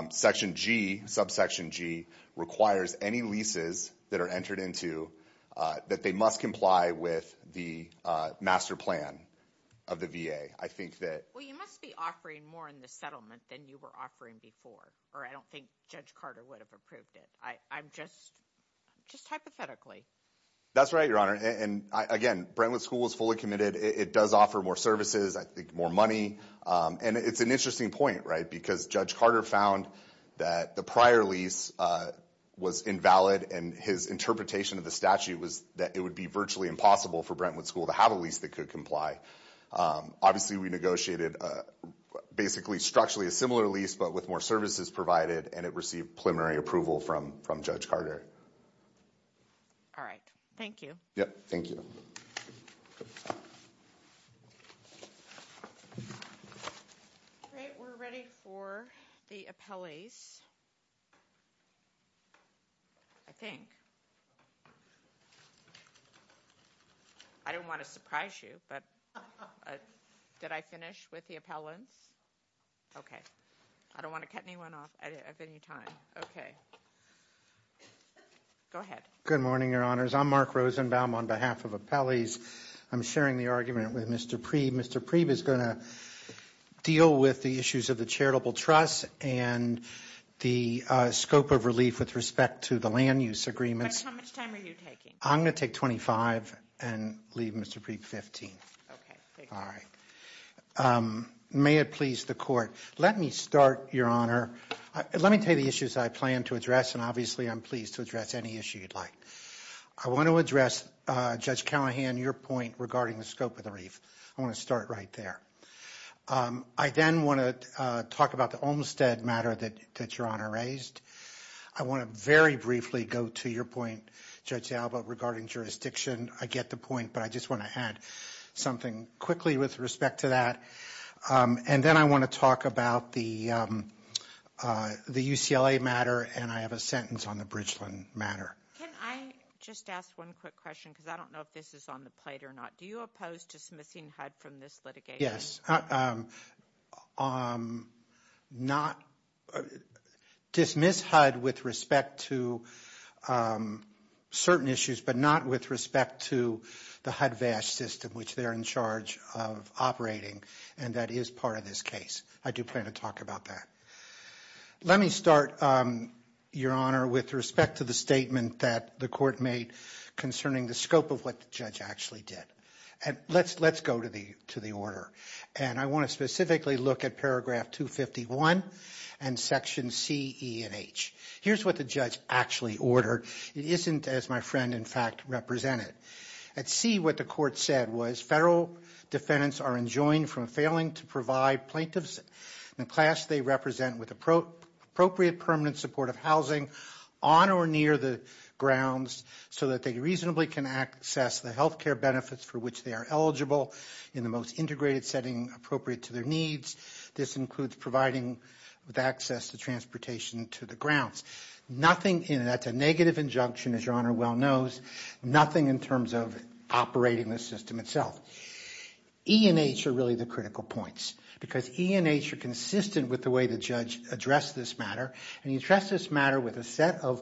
Section G, subsection G, requires any leases that are entered into that they must comply with the master plan of the VA. Well, you must be offering more in the settlement than you were offering before, or I don't think Judge Carter would have approved it. Just hypothetically. That's right, Your Honor. Again, Brentwood School is fully committed. It does offer more services, I think more money. And it's an interesting point, right, because Judge Carter found that the prior lease was invalid and his interpretation of the statute was that it would be virtually impossible for Brentwood School to have a lease that could comply. Obviously, we negotiated basically structurally a similar lease but with more services provided, and it received preliminary approval from Judge Carter. All right. Thank you. Yep. Thank you. All right. We're ready for the appellees, I think. I didn't want to surprise you, but did I finish with the appellant? Okay. I don't want to cut anyone off at any time. Okay. Go ahead. Good morning, Your Honors. I'm Mark Rosenbaum on behalf of appellees. I'm sharing the argument with Mr. Preeb. Mr. Preeb is going to deal with the issues of the charitable trust and the scope of relief with respect to the land use agreement. How much time are you taking? I'm going to take 25 and leave Mr. Preeb 15. Okay. All right. May it please the Court. Let me start, Your Honor. Let me pay the issues I plan to address, and obviously I'm pleased to address any issue you'd like. I want to address, Judge Callahan, your point regarding the scope of the relief. I want to start right there. I then want to talk about the Olmstead matter that Your Honor raised. I want to very briefly go to your point, Judge Alba, regarding jurisdiction. I get the point, but I just want to add something quickly with respect to that. Then I want to talk about the UCLA matter, and I have a sentence on the Bridgeland matter. Can I just ask one quick question because I don't know if this is on the plate or not? Do you oppose dismissing HUD from this litigation? Yes. Dismiss HUD with respect to certain issues, but not with respect to the HUD-VASH system, which they're in charge of operating, and that is part of this case. I do plan to talk about that. Let me start, Your Honor, with respect to the statement that the Court made concerning the scope of what the judge actually did. Let's go to the order. I want to specifically look at paragraph 251 and section C, E, and H. Here's what the judge actually ordered. It isn't, as my friend, in fact, represented. At C, what the Court said was federal defendants are enjoined from failing to provide plaintiffs in the class they represent with appropriate permanent supportive housing on or near the grounds so that they reasonably can access the health care benefits for which they are eligible in the most integrated setting appropriate to their needs. This includes providing access to transportation to the grounds. That's a negative injunction, as Your Honor well knows, nothing in terms of operating the system itself. E and H are really the critical points because E and H are consistent with the way the judge addressed this matter, and he addressed this matter with a set of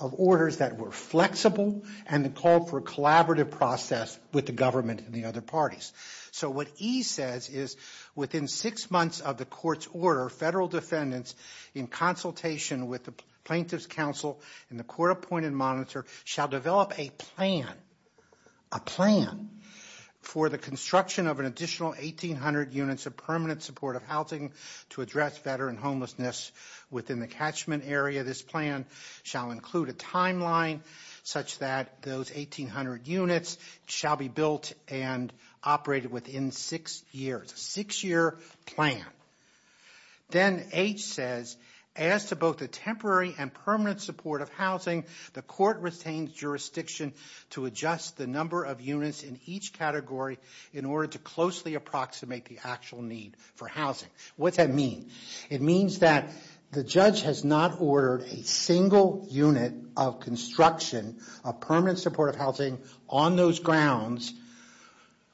orders that were flexible and the call for a collaborative process with the government and the other parties. So what E says is within six months of the Court's order, federal defendants in consultation with the Plaintiffs' Council and the court-appointed monitor shall develop a plan for the construction of an additional 1,800 units of permanent supportive housing to address veteran homelessness within the catchment area. This plan shall include a timeline such that those 1,800 units shall be built and operated within six years, a six-year plan. Then H says as to both the temporary and permanent supportive housing, the Court retains jurisdiction to adjust the number of units in each category in order to closely approximate the actual need for housing. What does that mean? It means that the judge has not ordered a single unit of construction of permanent supportive housing on those grounds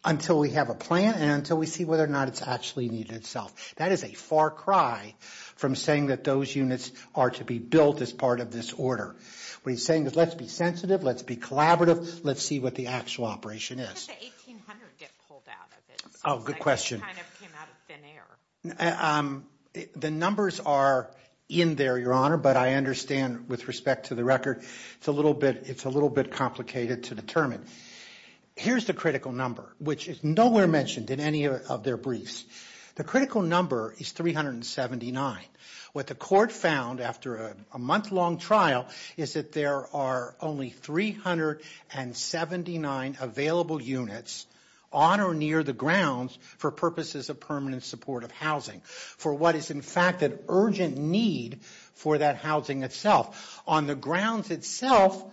until we have a plan and until we see whether or not it's actually needed itself. That is a far cry from saying that those units are to be built as part of this order. What he's saying is let's be sensitive, let's be collaborative, let's see what the actual operation is. When does the 1,800 get pulled out of it? Oh, good question. It kind of came out of thin air. The numbers are in there, Your Honor, but I understand with respect to the record it's a little bit complicated to determine. Here's the critical number, which is nowhere mentioned in any of their briefs. The critical number is 379. What the Court found after a month-long trial is that there are only 379 available units on or near the grounds for purposes of permanent supportive housing for what is in fact an urgent need for that housing itself. On the grounds itself,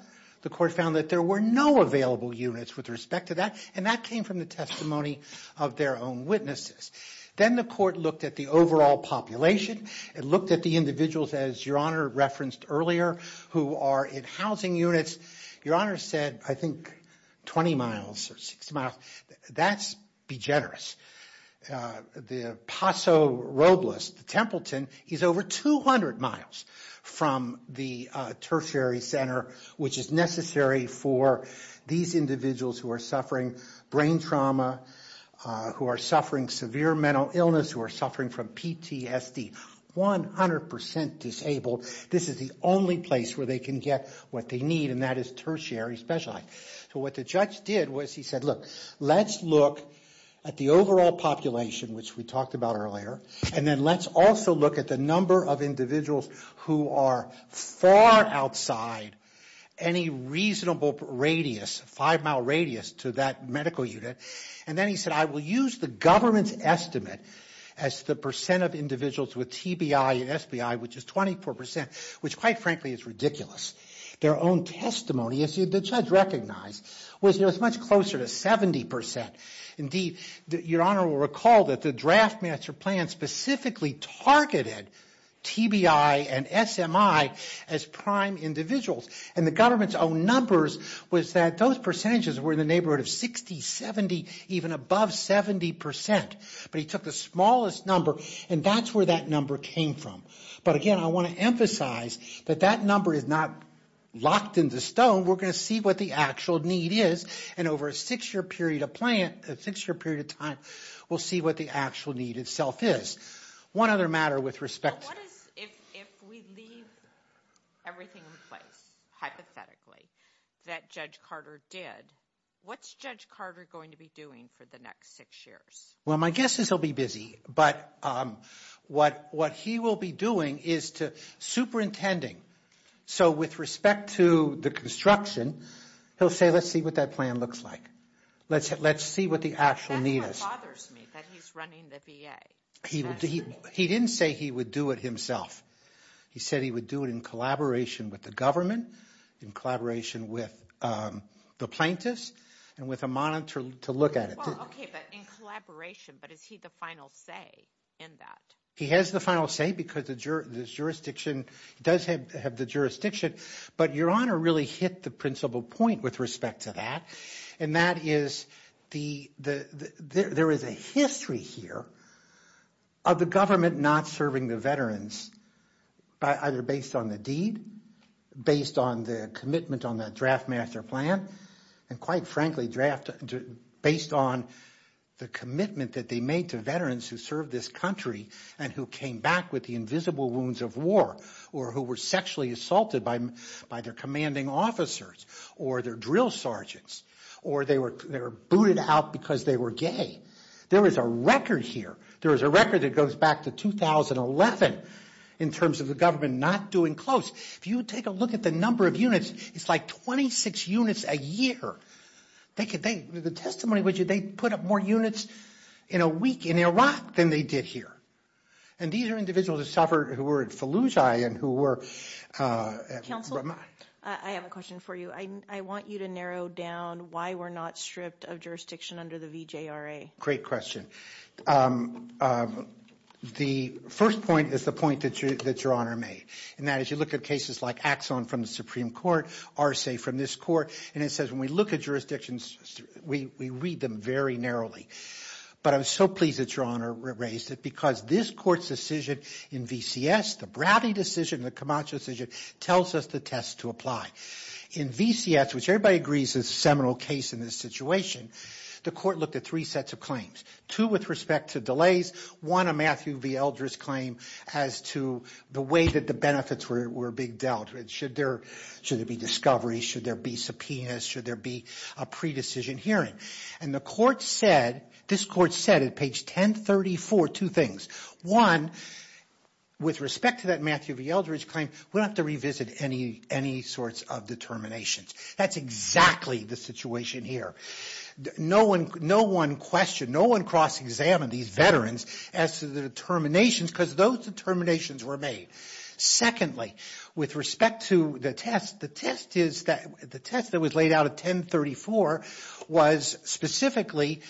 the Court found that there were no available units with respect to that, and that came from the testimony of their own witnesses. Then the Court looked at the overall population and looked at the individuals, as Your Honor referenced earlier, who are in housing units. Your Honor said, I think, 20 miles or 6 miles. That's degenerate. The Paso Robles, the Templeton, is over 200 miles from the tertiary center, which is necessary for these individuals who are suffering brain trauma, who are suffering severe mental illness, who are suffering from PTSD. 100% disabled. This is the only place where they can get what they need, and that is tertiary specialized. What the judge did was he said, look, let's look at the overall population, which we talked about earlier, and then let's also look at the number of individuals who are far outside any reasonable radius, 5-mile radius, to that medical unit. Then he said, I will use the government's estimate as the percent of individuals with TBI or SBI, which is 24%, which quite frankly is ridiculous. Their own testimony, as the judge recognized, was much closer to 70%. Indeed, Your Honor will recall that the draft master plan specifically targeted TBI and SMI as prime individuals, and the government's own numbers was that those percentages were in the neighborhood of 60, 70, even above 70%. But he took the smallest number, and that's where that number came from. But again, I want to emphasize that that number is not locked into stone. We're going to see what the actual need is. And over a six-year period of time, we'll see what the actual need itself is. One other matter with respect to this. If we leave everything in place, hypothetically, that Judge Carter did, what's Judge Carter going to be doing for the next six years? Well, my guess is he'll be busy. But what he will be doing is superintending. So with respect to the construction, he'll say, let's see what that plan looks like. Let's see what the actual need is. That bothers me that he's running the VA. He didn't say he would do it himself. He said he would do it in collaboration with the government, in collaboration with the plaintiffs, and with a monitor to look at it. Okay, but in collaboration, but is he the final say in that? He has the final say because the jurisdiction does have the jurisdiction. But Your Honor really hit the principal point with respect to that, and that is there is a history here of the government not serving the veterans, either based on the deed, based on the commitment on the draft master plan, and quite frankly, based on the commitment that they made to veterans who served this country and who came back with the invisible wounds of war or who were sexually assaulted by their commanding officers or their drill sergeants or they were booted out because they were gay. There is a record here. There is a record that goes back to 2011 in terms of the government not doing close. If you take a look at the number of units, it's like 26 units a year. The testimony was they put up more units in a week in Iraq than they did here. And these are individuals who suffered, who were at Fallujah and who were at Ramat. I have a question for you. I want you to narrow down why we're not stripped of jurisdiction under the VJRA. Great question. The first point is the point that Your Honor made, and that is you look at cases like Axon from the Supreme Court, Arce from this court, and it says when we look at jurisdictions, we read them very narrowly. But I'm so pleased that Your Honor raised it because this court's decision in VCS, the Browdy decision, the Camacho decision, tells us the test to apply. In VCS, which everybody agrees is a seminal case in this situation, the court looked at three sets of claims, two with respect to delays, one a Matthew V. Eldridge claim as to the way that the benefits were being dealt, should there be discoveries, should there be subpoenas, should there be a pre-decision hearing. And the court said, this court said at page 1034, two things. One, with respect to that Matthew V. Eldridge claim, we don't have to revisit any sorts of determinations. That's exactly the situation here. No one questioned, no one cross-examined these veterans as to the determinations because those determinations were made. Secondly, with respect to the test, the test that was laid out at 1034 was specifically,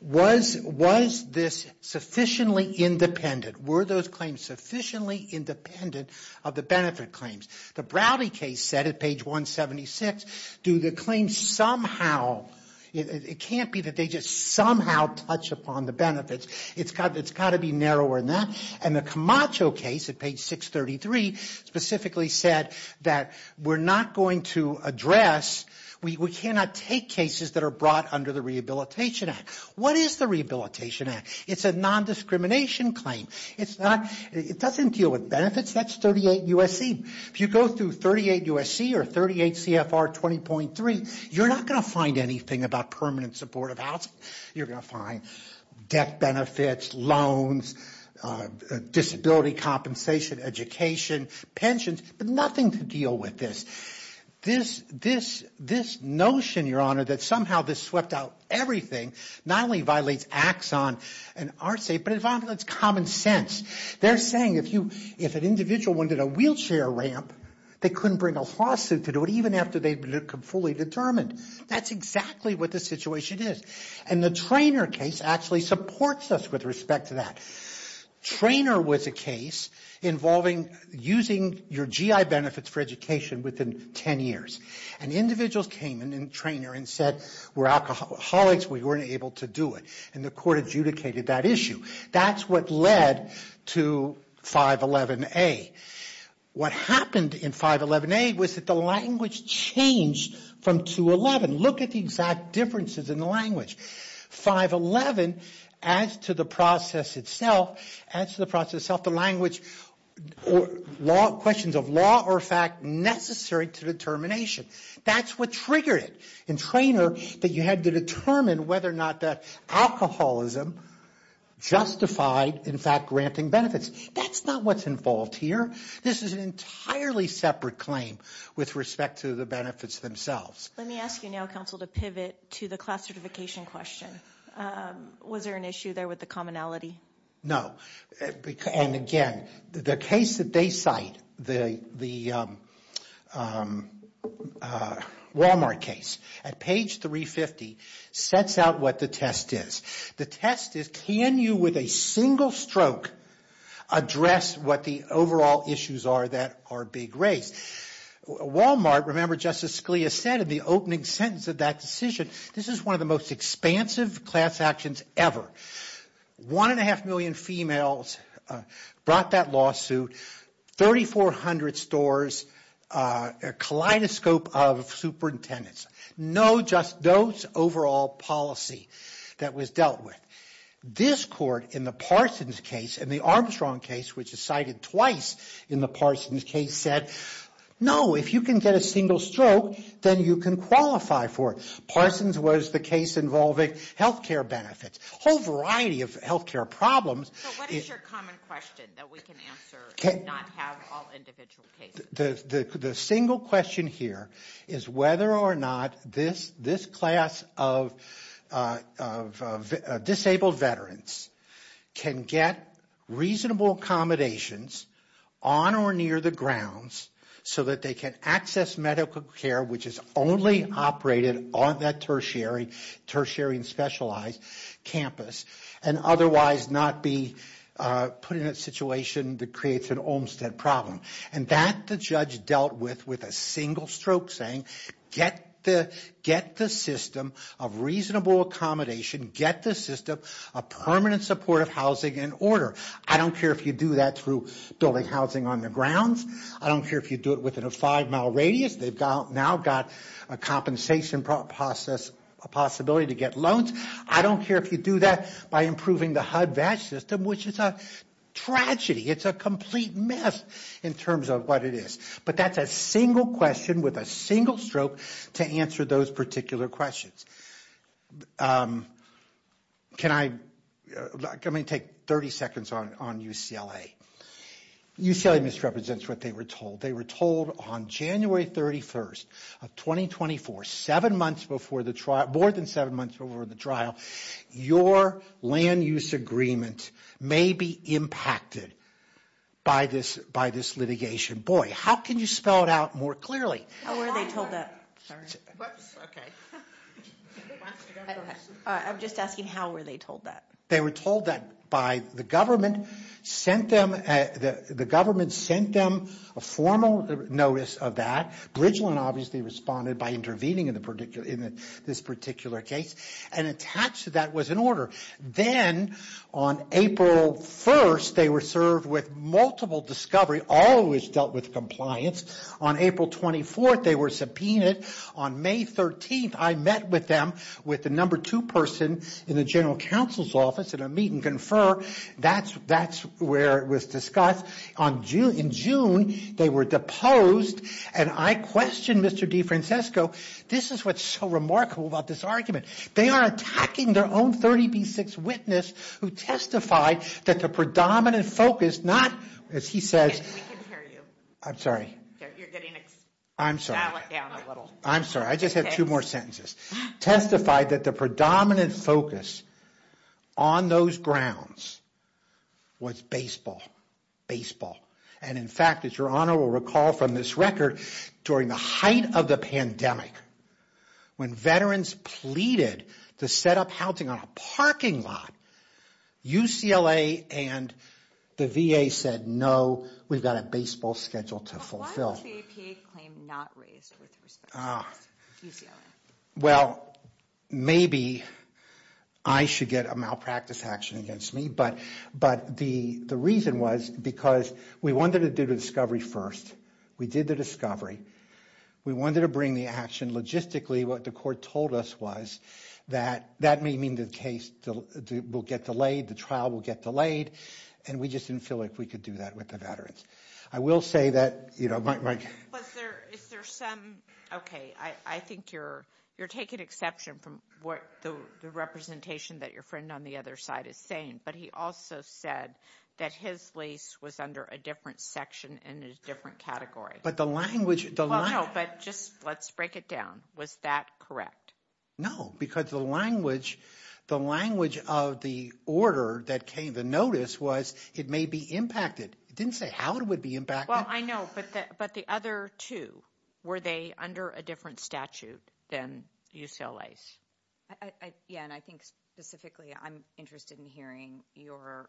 was this sufficiently independent? Were those claims sufficiently independent of the benefit claims? The Browdy case said at page 176, do the claims somehow, it can't be that they just somehow touch upon the benefits. It's got to be narrower than that. And the Camacho case at page 633 specifically said that we're not going to address, we cannot take cases that are brought under the Rehabilitation Act. What is the Rehabilitation Act? It's a nondiscrimination claim. It doesn't deal with benefits. That's 38 U.S.C. If you go through 38 U.S.C. or 38 CFR 20.3, you're not going to find anything about permanent supportive housing. You're going to find death benefits, loans, disability compensation, education, pensions, but nothing to deal with this. This notion, Your Honor, that somehow this swept out everything, not only violates AXON and our state, but it violates common sense. They're saying if an individual went to the wheelchair ramp, they couldn't bring a lawsuit to do it even after they've been fully determined. That's exactly what the situation is. And the Traynor case actually supports us with respect to that. Traynor was a case involving using your GI benefits for education within 10 years. And individuals came in Traynor and said we're alcoholics, we weren't able to do it. And the court adjudicated that issue. That's what led to 511A. What happened in 511A was that the language changed from 211. Look at the exact differences in the language. 511 adds to the process itself, the language, questions of law or fact necessary to determination. That's what triggered it in Traynor that you had to determine whether or not the alcoholism justified, in fact, granting benefits. That's not what's involved here. This is an entirely separate claim with respect to the benefits themselves. Let me ask you now, counsel, to pivot to the class certification question. Was there an issue there with the commonality? No. And, again, the case that they cite, the Walmart case, at page 350, sets out what the test is. The test is can you with a single stroke address what the overall issues are that are big race? Walmart, remember Justice Scalia said in the opening sentence of that decision, this is one of the most expansive class actions ever. One and a half million females brought that lawsuit. 3,400 stores, a kaleidoscope of superintendents. No, just those overall policy that was dealt with. This court in the Parsons case and the Armstrong case, which is cited twice in the Parsons case, said no, if you can get a single stroke, then you can qualify for it. Parsons was the case involving health care benefits. A whole variety of health care problems. What is your common question that we can answer and not have all individual cases? The single question here is whether or not this class of disabled veterans can get reasonable accommodations on or near the grounds so that they can access medical care, which is only operated on that tertiary and specialized campus, and otherwise not be put in a situation that creates an Olmstead problem. And that the judge dealt with with a single stroke saying get the system a reasonable accommodation, get the system a permanent supportive housing in order. I don't care if you do that through building housing on the ground. I don't care if you do it within a five-mile radius. They've now got a compensation process, a possibility to get loans. I don't care if you do that by improving the HUD-VASH system, which is a tragedy. It's a complete mess in terms of what it is. But that's a single question with a single stroke to answer those particular questions. Can I take 30 seconds on UCLA? UCLA misrepresents what they were told. They were told on January 31st of 2024, seven months before the trial, more than seven months before the trial, your land use agreement may be impacted by this litigation. Boy, how can you spell it out more clearly? How were they told that? I'm just asking how were they told that? They were told that by the government. The government sent them a formal notice of that. Bridgeland obviously responded by intervening in this particular case. And attached to that was an order. Then on April 1st, they were served with multiple discovery, always dealt with compliance. On April 24th, they were subpoenaed. On May 13th, I met with them with the number two person in the general counsel's office in a meet-and-confer. That's where it was discussed. In June, they were deposed. And I questioned Mr. DeFrancesco. This is what's so remarkable about this argument. They are attacking their own 30D6 witness who testified that the predominant focus, not, as he says. I'm sorry. I'm sorry. I'm sorry. I just have two more sentences. Testified that the predominant focus on those grounds was baseball. And in fact, as your honor will recall from this record, during the height of the pandemic, when veterans pleaded to set up housing on a parking lot, UCLA and the VA said, no, we've got a baseball schedule to fulfill. Why was the APA claim not raised? Well, maybe I should get a malpractice action against me. But the reason was because we wanted to do the discovery first. We did the discovery. We wanted to bring the action logistically. What the court told us was that that may mean the case will get delayed, the trial will get delayed. And we just didn't feel like we could do that with the veterans. I will say that, you know. But is there some, okay, I think you're taking exception from what the representation that your friend on the other side is saying. But he also said that his lease was under a different section and a different category. But the language. No, but just let's break it down. Was that correct? No, because the language of the order that came to notice was it may be impacted. It didn't say how it would be impacted. Well, I know. But the other two, were they under a different statute than UCLA's? Yeah, and I think specifically I'm interested in hearing your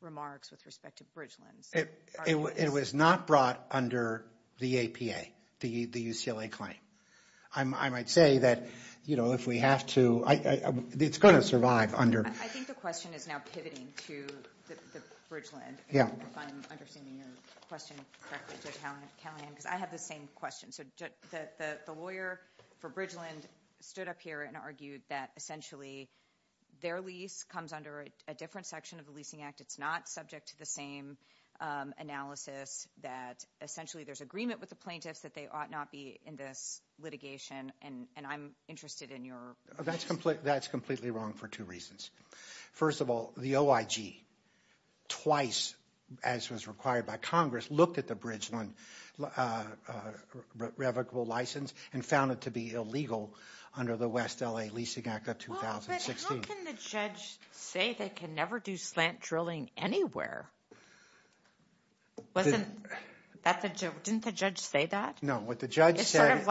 remarks with respect to Bridgeland. It was not brought under the APA, the UCLA claim. I might say that, you know, if we have to, it's going to survive under. I think the question is now pivoting to Bridgeland. Yeah. If I'm understanding your question correctly. I have the same question. The lawyer for Bridgeland stood up here and argued that essentially their lease comes under a different section of the Leasing Act. It's not subject to the same analysis that essentially there's agreement with the plaintiffs that they ought not be in this litigation. And I'm interested in your. That's completely wrong for two reasons. First of all, the OIG twice, as was required by Congress, looked at the Bridgeland revocable license and found it to be illegal under the West L.A. Leasing Act of 2016. Well, but how can the judge say they can never do slant drilling anywhere? Didn't the judge say that? No, what the judge said.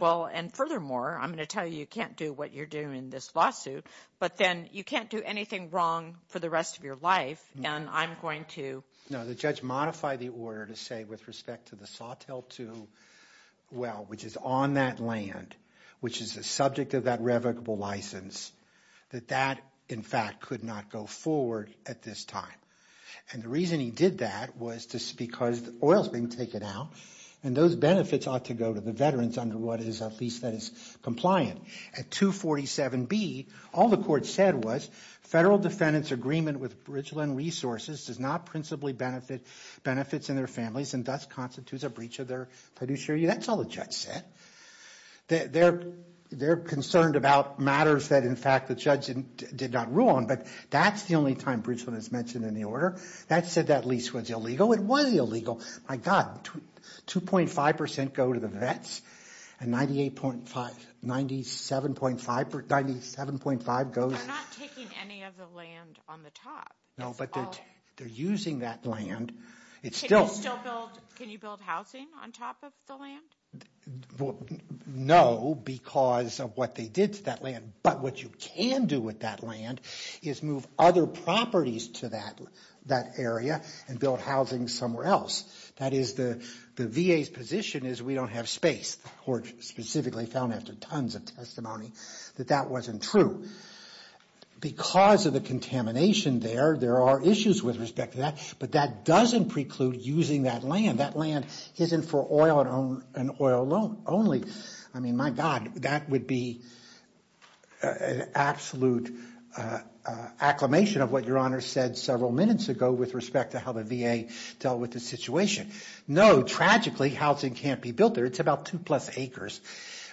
Well, and furthermore, I'm going to tell you, you can't do what you're doing in this lawsuit, but then you can't do anything wrong for the rest of your life. And I'm going to. No, the judge modified the order to say with respect to the Sawtill 2 well, which is on that land, which is the subject of that revocable license, that that, in fact, could not go forward at this time. And the reason he did that was just because the oil is being taken out and those benefits ought to go to the veterans under what is at least that it's compliant. At 247B, all the court said was federal defendants' agreement with Bridgeland Resources does not principally benefit benefits in their families and thus constitutes a breach of their fiduciary. That's all the judge said. They're concerned about matters that, in fact, the judge did not rule on, but that's the only time Bridgeland is mentioned in the order. That said that lease was illegal. It was illegal. My God, 2.5% go to the vets and 97.5% go to the- They're not taking any of the land on the top. No, but they're using that land. It's still- Can you build housing on top of the land? No, because of what they did to that land. But what you can do with that land is move other properties to that area and build housing somewhere else. That is the VA's position is we don't have space. The court specifically found after tons of testimony that that wasn't true. Because of the contamination there, there are issues with respect to that, but that doesn't preclude using that land. That land isn't for oil and oil only. I mean, my God, that would be an absolute acclamation of what Your Honor said several minutes ago with respect to how the VA dealt with the situation. No, tragically, housing can't be built there. It's about two-plus acres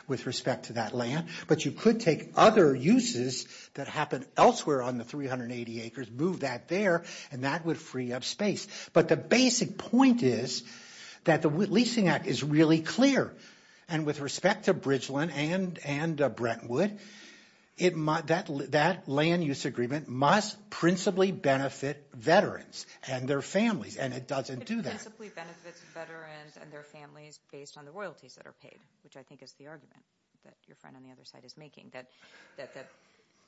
with respect to that land. But you could take other uses that happen elsewhere on the 380 acres, move that there, and that would free up space. But the basic point is that the Leasing Act is really clear, and with respect to Bridgeland and Brentwood, that land use agreement must principally benefit veterans and their families, and it doesn't do that. It principally benefits veterans and their families based on the royalties that are paid, which I think is the argument that your friend on the other side is making, that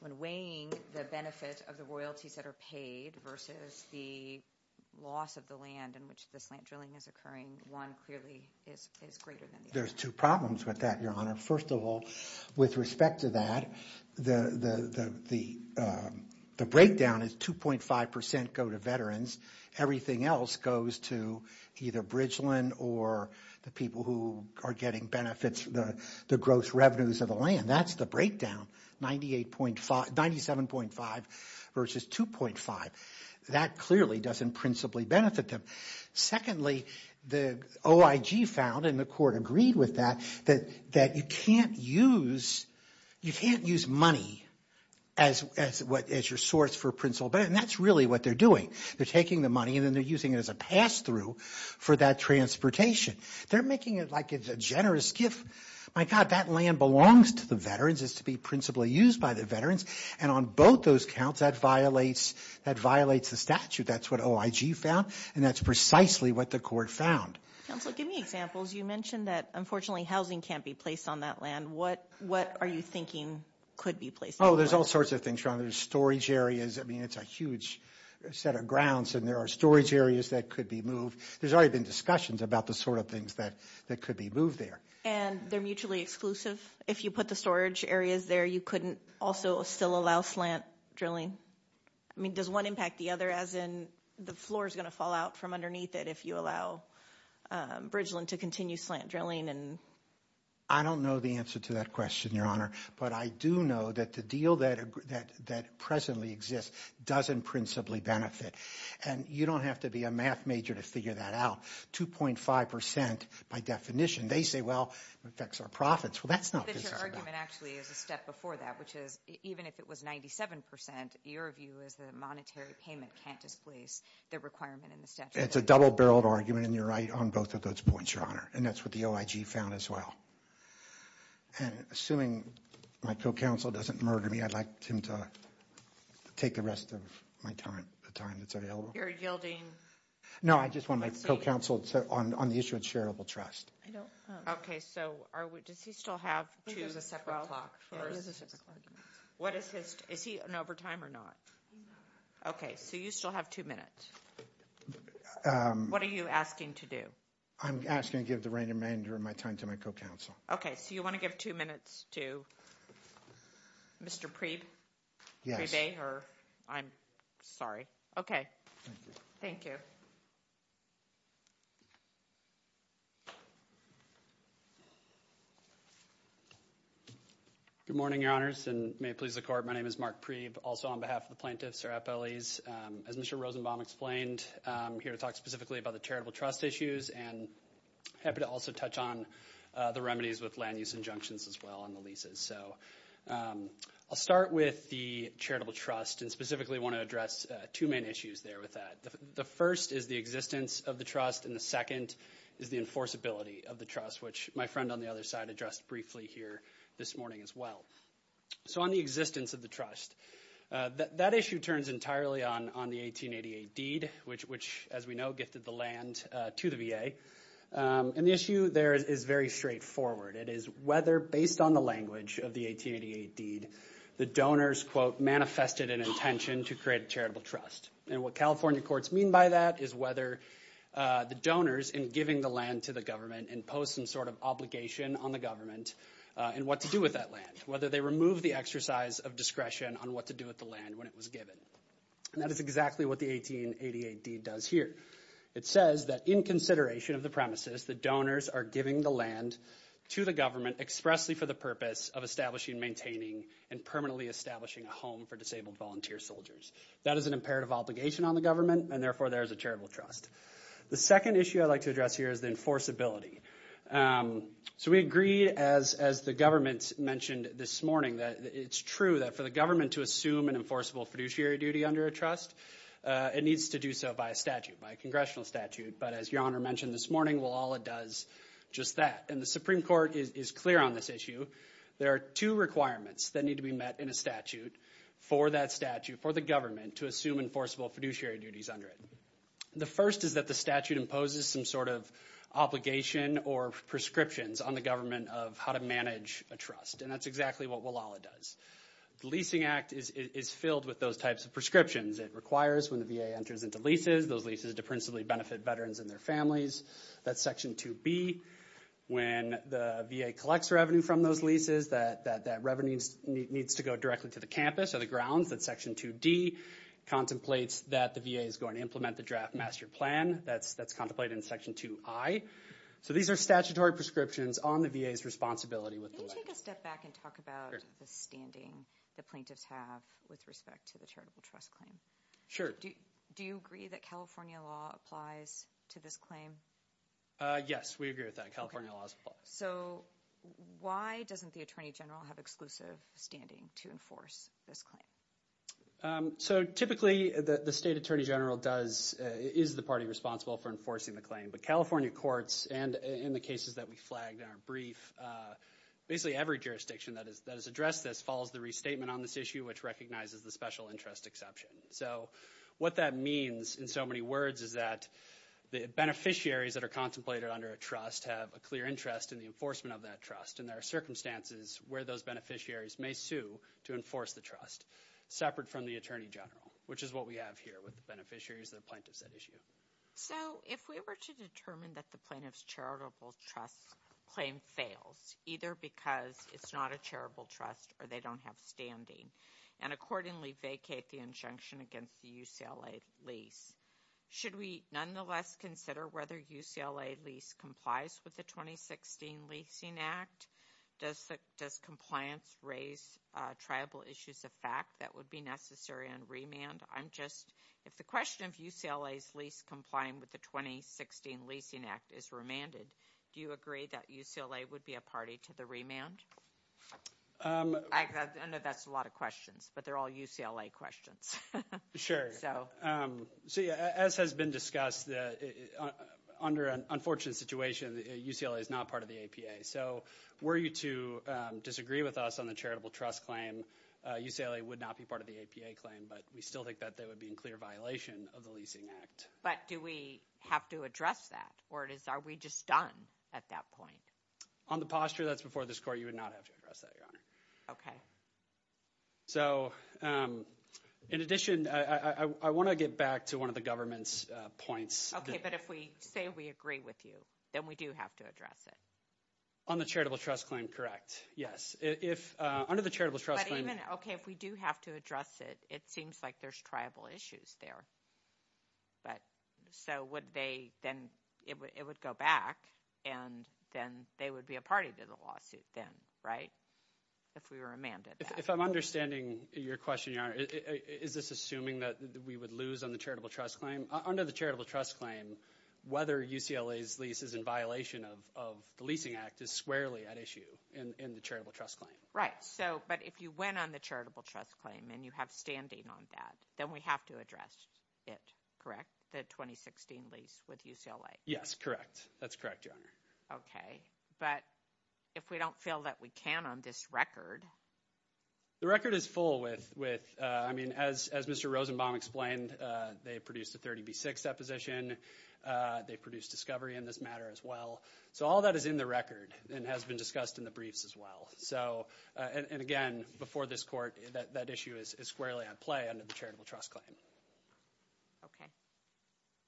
when weighing the benefit of the royalties that are paid versus the loss of the land in which the slant drilling is occurring, one clearly is greater than the other. There's two problems with that, Your Honor. First of all, with respect to that, the breakdown is 2.5 percent go to veterans. Everything else goes to either Bridgeland or the people who are getting benefits, the growth revenues of the land. That's the breakdown, 97.5 versus 2.5. That clearly doesn't principally benefit them. Secondly, the OIG found, and the court agreed with that, that you can't use money as your source for principal benefit, and that's really what they're doing. They're taking the money, and then they're using it as a pass-through for that transportation. They're making it like it's a generous gift. My God, that land belongs to the veterans. It's to be principally used by the veterans, and on both those counts, that violates the statute. That's what OIG found, and that's precisely what the court found. Counsel, give me examples. You mentioned that, unfortunately, housing can't be placed on that land. What are you thinking could be placed on that land? Oh, there's all sorts of things, Your Honor. There's storage areas. I mean, it's a huge set of grounds, and there are storage areas that could be moved. There's already been discussions about the sort of things that could be moved there. And they're mutually exclusive? If you put the storage areas there, you couldn't also still allow slant drilling? I mean, does one impact the other, as in the floor is going to fall out from underneath it if you allow Bridgeland to continue slant drilling? I don't know the answer to that question, Your Honor, but I do know that the deal that presently exists doesn't principally benefit, and you don't have to be a math major to figure that out. 2.5% by definition. They say, well, it affects our profits. Well, that's not feasible. But your argument actually is a step before that, which is even if it was 97%, your view is that a monetary payment can't displace the requirement in the statute. It's a double-barreled argument, and you're right on both of those points, Your Honor, and that's what the OIG found as well. And assuming my co-counsel doesn't murder me, I'd like him to take the rest of my time that's available. You're yielding? No, I just want my co-counsel on the issue of charitable trust. Okay. So does he still have two separate blocks? There is a separate block. Is he in overtime or not? Okay. So you still have two minutes. What are you asking to do? I'm asking to give the remainder of my time to my co-counsel. Okay. So you want to give two minutes to Mr. Pree today? I'm sorry. Okay. Thank you. Good morning, Your Honors, and may it please the Court. My name is Mark Pree, also on behalf of the plaintiffs, our FLEs. As Mr. Rosenbaum explained, I'm here to talk specifically about the charitable trust issues and happy to also touch on the remedies with land use injunctions as well and the leases. So I'll start with the charitable trust and specifically want to address two main issues there with that. The first is the existence of the trust, and the second is the enforceability of the trust, which my friend on the other side addressed briefly here this morning as well. So on the existence of the trust, that issue turns entirely on the 1888 deed, which, as we know, gifted the land to the VA. And the issue there is very straightforward. It is whether, based on the language of the 1888 deed, the donors, quote, manifested an intention to create a charitable trust. And what California courts mean by that is whether the donors, in giving the land to the government, impose some sort of obligation on the government in what to do with that land, whether they remove the exercise of discretion on what to do with the land when it was given. And that is exactly what the 1888 deed does here. It says that in consideration of the premises, the donors are giving the land to the government expressly for the purpose of establishing and maintaining and permanently establishing a home for disabled volunteer soldiers. That is an imperative obligation on the government, and therefore there is a charitable trust. The second issue I'd like to address here is the enforceability. So we agree, as the government mentioned this morning, that it's true that for the government to assume an enforceable fiduciary duty under a trust, it needs to do so by a statute, by a congressional statute. But as Your Honor mentioned this morning, well, all it does is just that. And the Supreme Court is clear on this issue. There are two requirements that need to be met in a statute for that statute, for the government to assume enforceable fiduciary duties under it. The first is that the statute imposes some sort of obligation or prescriptions on the government of how to manage a trust. And that's exactly what Walala does. The Leasing Act is filled with those types of prescriptions. It requires when the VA enters into leases, those leases are to principally benefit veterans and their families. That's Section 2B. When the VA collects revenue from those leases, that revenue needs to go directly to the campus or the grounds. And Section 2D contemplates that the VA is going to implement the draft master plan. That's contemplated in Section 2I. So these are statutory prescriptions on the VA's responsibility with the land. Can we take a step back and talk about the standing the plaintiffs have with respect to the charitable trust claim? Sure. Do you agree that California law applies to this claim? Yes. We agree with that. California law applies. Okay. So why doesn't the Attorney General have exclusive standing to enforce this claim? Typically, the State Attorney General is the party responsible for enforcing the claim. But California courts, and in the cases that we flagged in our brief, basically every jurisdiction that has addressed this follows the restatement on this issue, which recognizes the special interest exception. So what that means in so many words is that the beneficiaries that are contemplated under a trust have a clear interest in the enforcement of that trust, and there are circumstances where those beneficiaries may sue to enforce the trust, separate from the Attorney General, which is what we have here with the beneficiaries and the plaintiffs at issue. So if we were to determine that the plaintiff's charitable trust claim fails, either because it's not a charitable trust or they don't have standing, and accordingly vacate the injunction against the UCLA lease, should we nonetheless consider whether UCLA lease complies with the 2016 Leasing Act? Does compliance raise tribal issues of fact that would be necessary on remand? If the question of UCLA's lease complying with the 2016 Leasing Act is remanded, do you agree that UCLA would be a party to the remand? I know that's a lot of questions, but they're all UCLA questions. So as has been discussed, under an unfortunate situation, UCLA is not part of the APA. So were you to disagree with us on the charitable trust claim, UCLA would not be part of the APA claim, but we still think that they would be in clear violation of the Leasing Act. But do we have to address that, or are we just done at that point? On the posture that's before this court, you would not have to address that, Your Honor. Okay. So in addition, I want to get back to one of the government's points. Okay, but if we say we agree with you, then we do have to address it. On the charitable trust claim, correct. Yes. But even, okay, if we do have to address it, it seems like there's tribal issues there. So it would go back, and then they would be a party to the lawsuit then, right, if we remanded that. If I'm understanding your question, Your Honor, is this assuming that we would lose on the charitable trust claim? Under the charitable trust claim, whether UCLA's lease is in violation of the Leasing Act is squarely at issue in the charitable trust claim. Right, but if you win on the charitable trust claim and you have standing on that, then we have to address it, correct, the 2016 lease with UCLA? Yes, correct. That's correct, Your Honor. Okay, but if we don't feel that we can on this record? The record is full with, I mean, as Mr. Rosenbaum explained, they produced the 30B6 deposition. They produced discovery in this matter as well. So all that is in the record and has been discussed in the briefs as well. And, again, before this court, that issue is squarely at play under the charitable trust claim.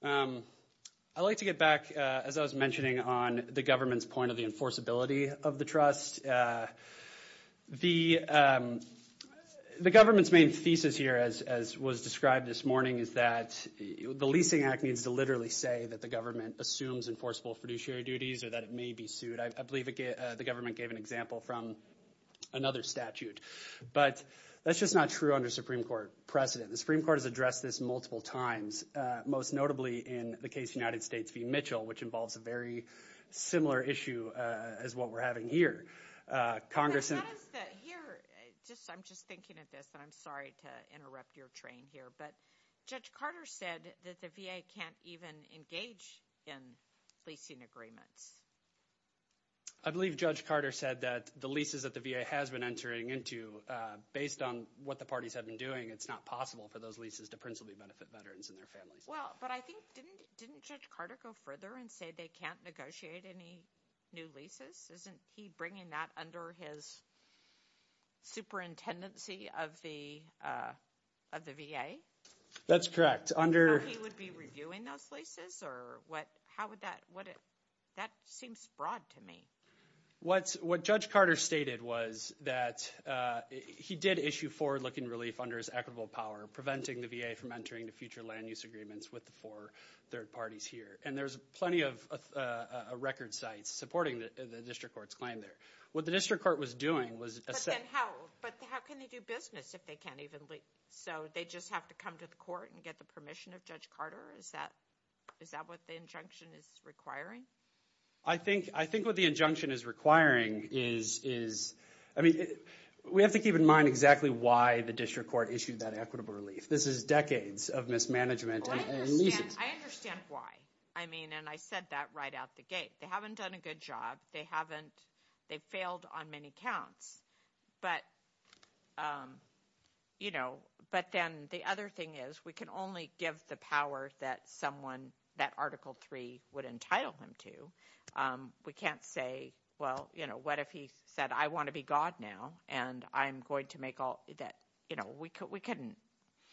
Okay. I'd like to get back, as I was mentioning, on the government's point of the enforceability of the trust. The government's main thesis here, as was described this morning, is that the Leasing Act needs to literally say that the government assumes enforceable fiduciary duties or that it may be sued. I believe the government gave an example from another statute. But that's just not true under Supreme Court precedent. The Supreme Court has addressed this multiple times, most notably in the case of United States v. Mitchell, which involves a very similar issue as what we're having here. Congresswoman? I'm just thinking of this, and I'm sorry to interrupt your train here. But Judge Carter said that the VA can't even engage in leasing agreements. I believe Judge Carter said that the leases that the VA has been entering into, based on what the parties have been doing, it's not possible for those leases to principally benefit veterans and their families. Well, but I think didn't Judge Carter go further and say they can't negotiate any new leases? Isn't he bringing that under his superintendency of the VA? That's correct. So he would be reviewing those leases? That seems broad to me. What Judge Carter stated was that he did issue forward-looking relief under his equitable power, preventing the VA from entering into future land-use agreements with the four third parties here. And there's plenty of record sites supporting the district court's claim there. What the district court was doing was essentially – But how can they do business if they can't even lease? So they just have to come to the court and get the permission of Judge Carter? Is that what the injunction is requiring? I think what the injunction is requiring is – I mean, we have to keep in mind exactly why the district court issued that equitable relief. This is decades of mismanagement and leasing. I understand why. I mean, and I said that right out the gate. They haven't done a good job. They haven't – they've failed on many counts. But then the other thing is we can only give the power that someone – that Article III would entitle them to. We can't say, well, what if he said, I want to be God now, and I'm going to make all – that we couldn't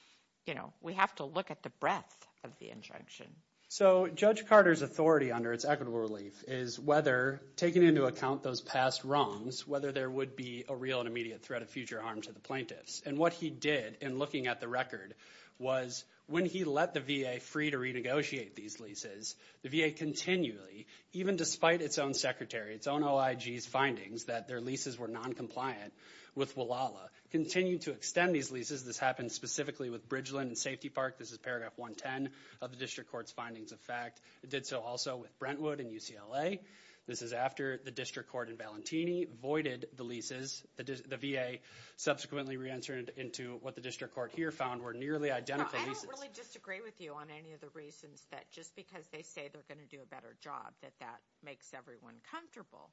– we have to look at the breadth of the injunction. So Judge Carter's authority under its equitable relief is whether – taking into account those past wrongs, whether there would be a real and immediate threat of future harm to the plaintiffs. And what he did in looking at the record was when he let the VA free to renegotiate these leases, the VA continually, even despite its own secretary, its own OIG's findings, that their leases were noncompliant with WLALA, continued to extend these leases. This happened specifically with Bridgeland and Safety Park. This is Paragraph 110 of the district court's findings of fact. It did so also with Brentwood and UCLA. This is after the district court in Valentini voided the leases. The VA subsequently reentered into what the district court here found were nearly identical leases. I don't really disagree with you on any of the reasons that just because they say they're going to do a better job, that that makes everyone comfortable.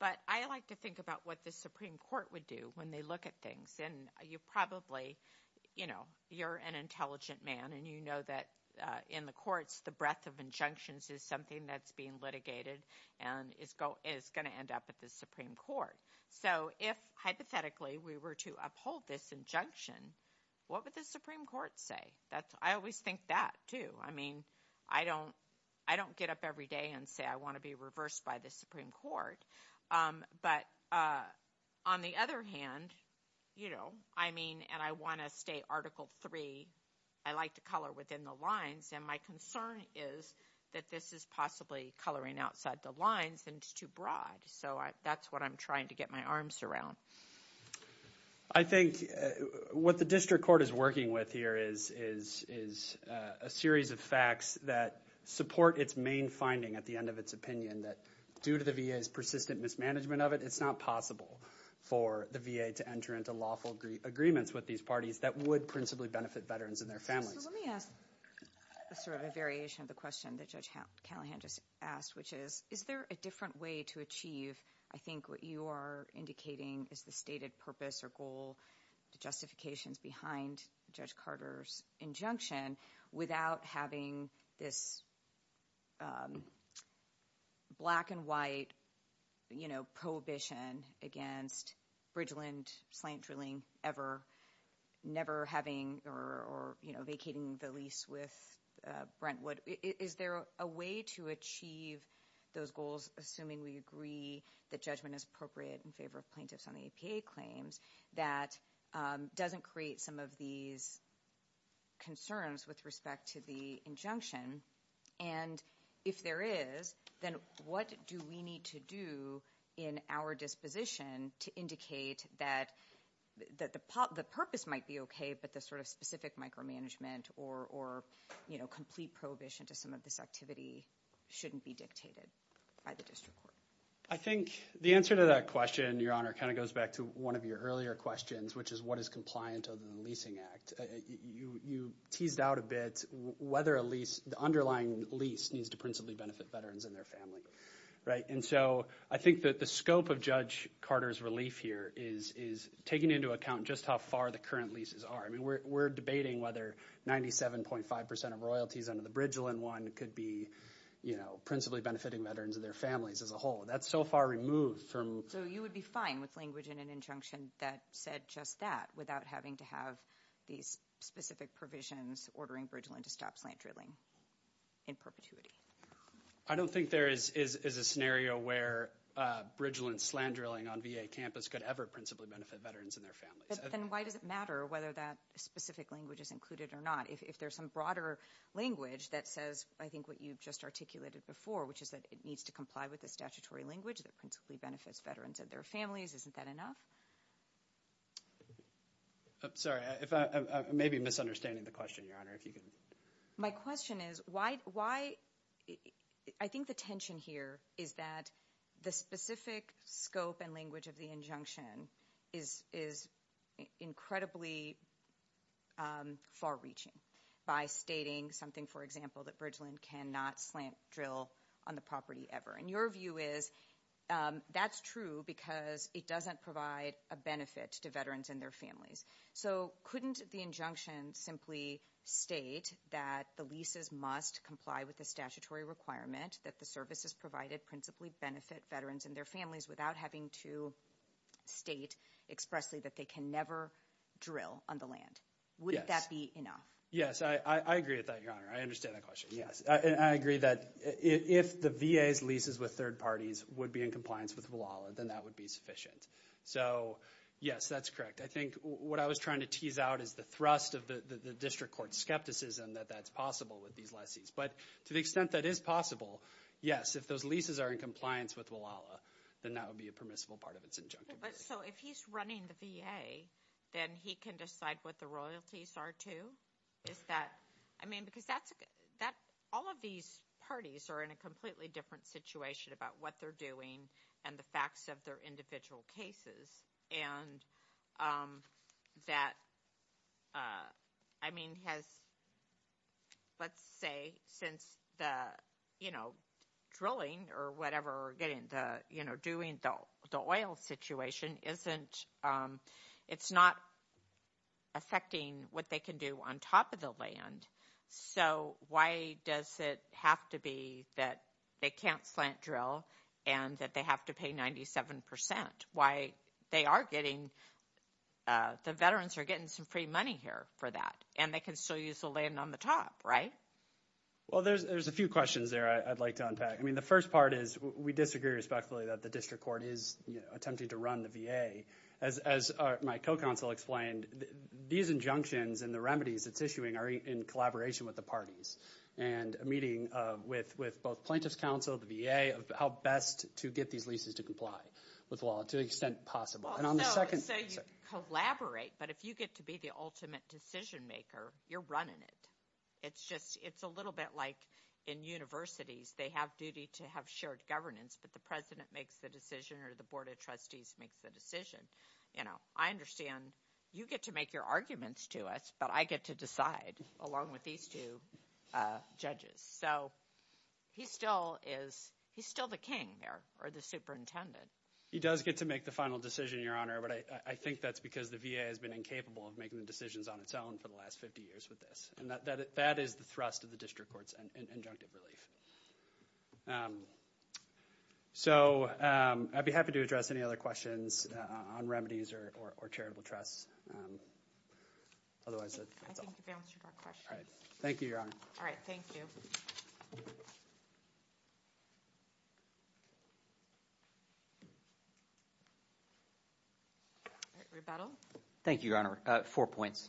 But I like to think about what the Supreme Court would do when they look at things. And you probably – you're an intelligent man, and you know that in the courts the breadth of injunctions is something that's being litigated and is going to end up at the Supreme Court. So if, hypothetically, we were to uphold this injunction, what would the Supreme Court say? I always think that too. I mean, I don't get up every day and say I want to be reversed by the Supreme Court. But on the other hand, you know, I mean, and I want to stay Article III. I like to color within the lines. And my concern is that this is possibly coloring outside the lines and it's too broad. So that's what I'm trying to get my arms around. I think what the district court is working with here is a series of facts that support its main finding at the end of its opinion, that due to the VA's persistent mismanagement of it, it's not possible for the VA to enter into lawful agreements with these parties that would principally benefit veterans and their families. Let me ask sort of a variation of the question that Judge Callahan just asked, which is, is there a different way to achieve, I think, what you are indicating is the stated purpose or goal, the justifications behind Judge Carter's injunction, without having this black and white, you know, prohibition against bridgeland plant drilling ever, never having or, you know, vacating the lease with Brentwood. Is there a way to achieve those goals, assuming we agree that judgment is appropriate in favor of plaintiffs on APA claims, that doesn't create some of these concerns with respect to the injunction? And if there is, then what do we need to do in our disposition to indicate that the purpose might be okay, but the sort of specific micromanagement or, you know, complete prohibition to some of this activity shouldn't be dictated by the district court? I think the answer to that question, Your Honor, kind of goes back to one of your earlier questions, which is what is compliant of the Leasing Act. You teased out a bit whether a lease, the underlying lease, needs to principally benefit veterans and their families, right? And so I think that the scope of Judge Carter's relief here is taking into account just how far the current leases are. I mean, we're debating whether 97.5% of royalties under the bridgeland one could be, you know, principally benefiting veterans and their families as a whole. That's so far removed from – So you would be fine with language in an injunction that said just that, without having to have these specific provisions ordering bridgeland to stop plant drilling in perpetuity? I don't think there is a scenario where bridgeland slant drilling on VA campus could ever principally benefit veterans and their families. Then why does it matter whether that specific language is included or not? If there's some broader language that says, I think, what you've just articulated before, which is that it needs to comply with the statutory language that principally benefits veterans and their families, isn't that enough? Sorry, I may be misunderstanding the question, Your Honor. My question is why – I think the tension here is that the specific scope and language of the injunction is incredibly far-reaching by stating something, for example, that bridgeland cannot slant drill on the property ever. And your view is that's true because it doesn't provide a benefit to veterans and their families. So couldn't the injunction simply state that the leases must comply with the statutory requirement that the services provided principally benefit veterans and their families without having to state expressly that they can never drill on the land? Wouldn't that be enough? Yes, I agree with that, Your Honor. I understand the question. I agree that if the VA's leases with third parties would be in compliance with WLALA, then that would be sufficient. So, yes, that's correct. I think what I was trying to tease out is the thrust of the district court skepticism that that's possible with these lessees. But to the extent that is possible, yes, if those leases are in compliance with WLALA, then that would be a permissible part of its injunction. So if he's running the VA, then he can decide what the royalties are too? I mean, because all of these parties are in a completely different situation about what they're doing and the facts of their individual cases. And that, I mean, has, let's say, since the, you know, drilling or whatever, getting the, you know, doing the oil situation isn't, it's not affecting what they can do on top of the land. So why does it have to be that they can't plant drill and that they have to pay 97%? Why they are getting, the veterans are getting some free money here for that and they can still use the land on the top, right? Well, there's a few questions there I'd like to unpack. I mean, the first part is we disagree respectfully that the district court is attempting to run the VA. As my co-counsel explained, these injunctions and the remedies it's issuing are in collaboration with the parties and meeting with both plaintiff's counsel, the VA, of how best to get these leases to comply with law to the extent possible. And on the second – So you collaborate, but if you get to be the ultimate decision maker, you're running it. It's just, it's a little bit like in universities. They have duty to have shared governance, but the president makes the decision or the board of trustees makes the decision. You know, I understand you get to make your arguments to us, but I get to decide along with these two judges. So he still is, he's still the king there or the superintendent. He does get to make the final decision, Your Honor, but I think that's because the VA has been incapable of making the decisions on its own for the last 50 years with this. And that is the thrust of the district court's injunctive relief. So I'd be happy to address any other questions on remedies or charitable trust. Otherwise, that's all. Thank you, Your Honor. All right, thank you. Rebuttal. Thank you, Your Honor. Four points.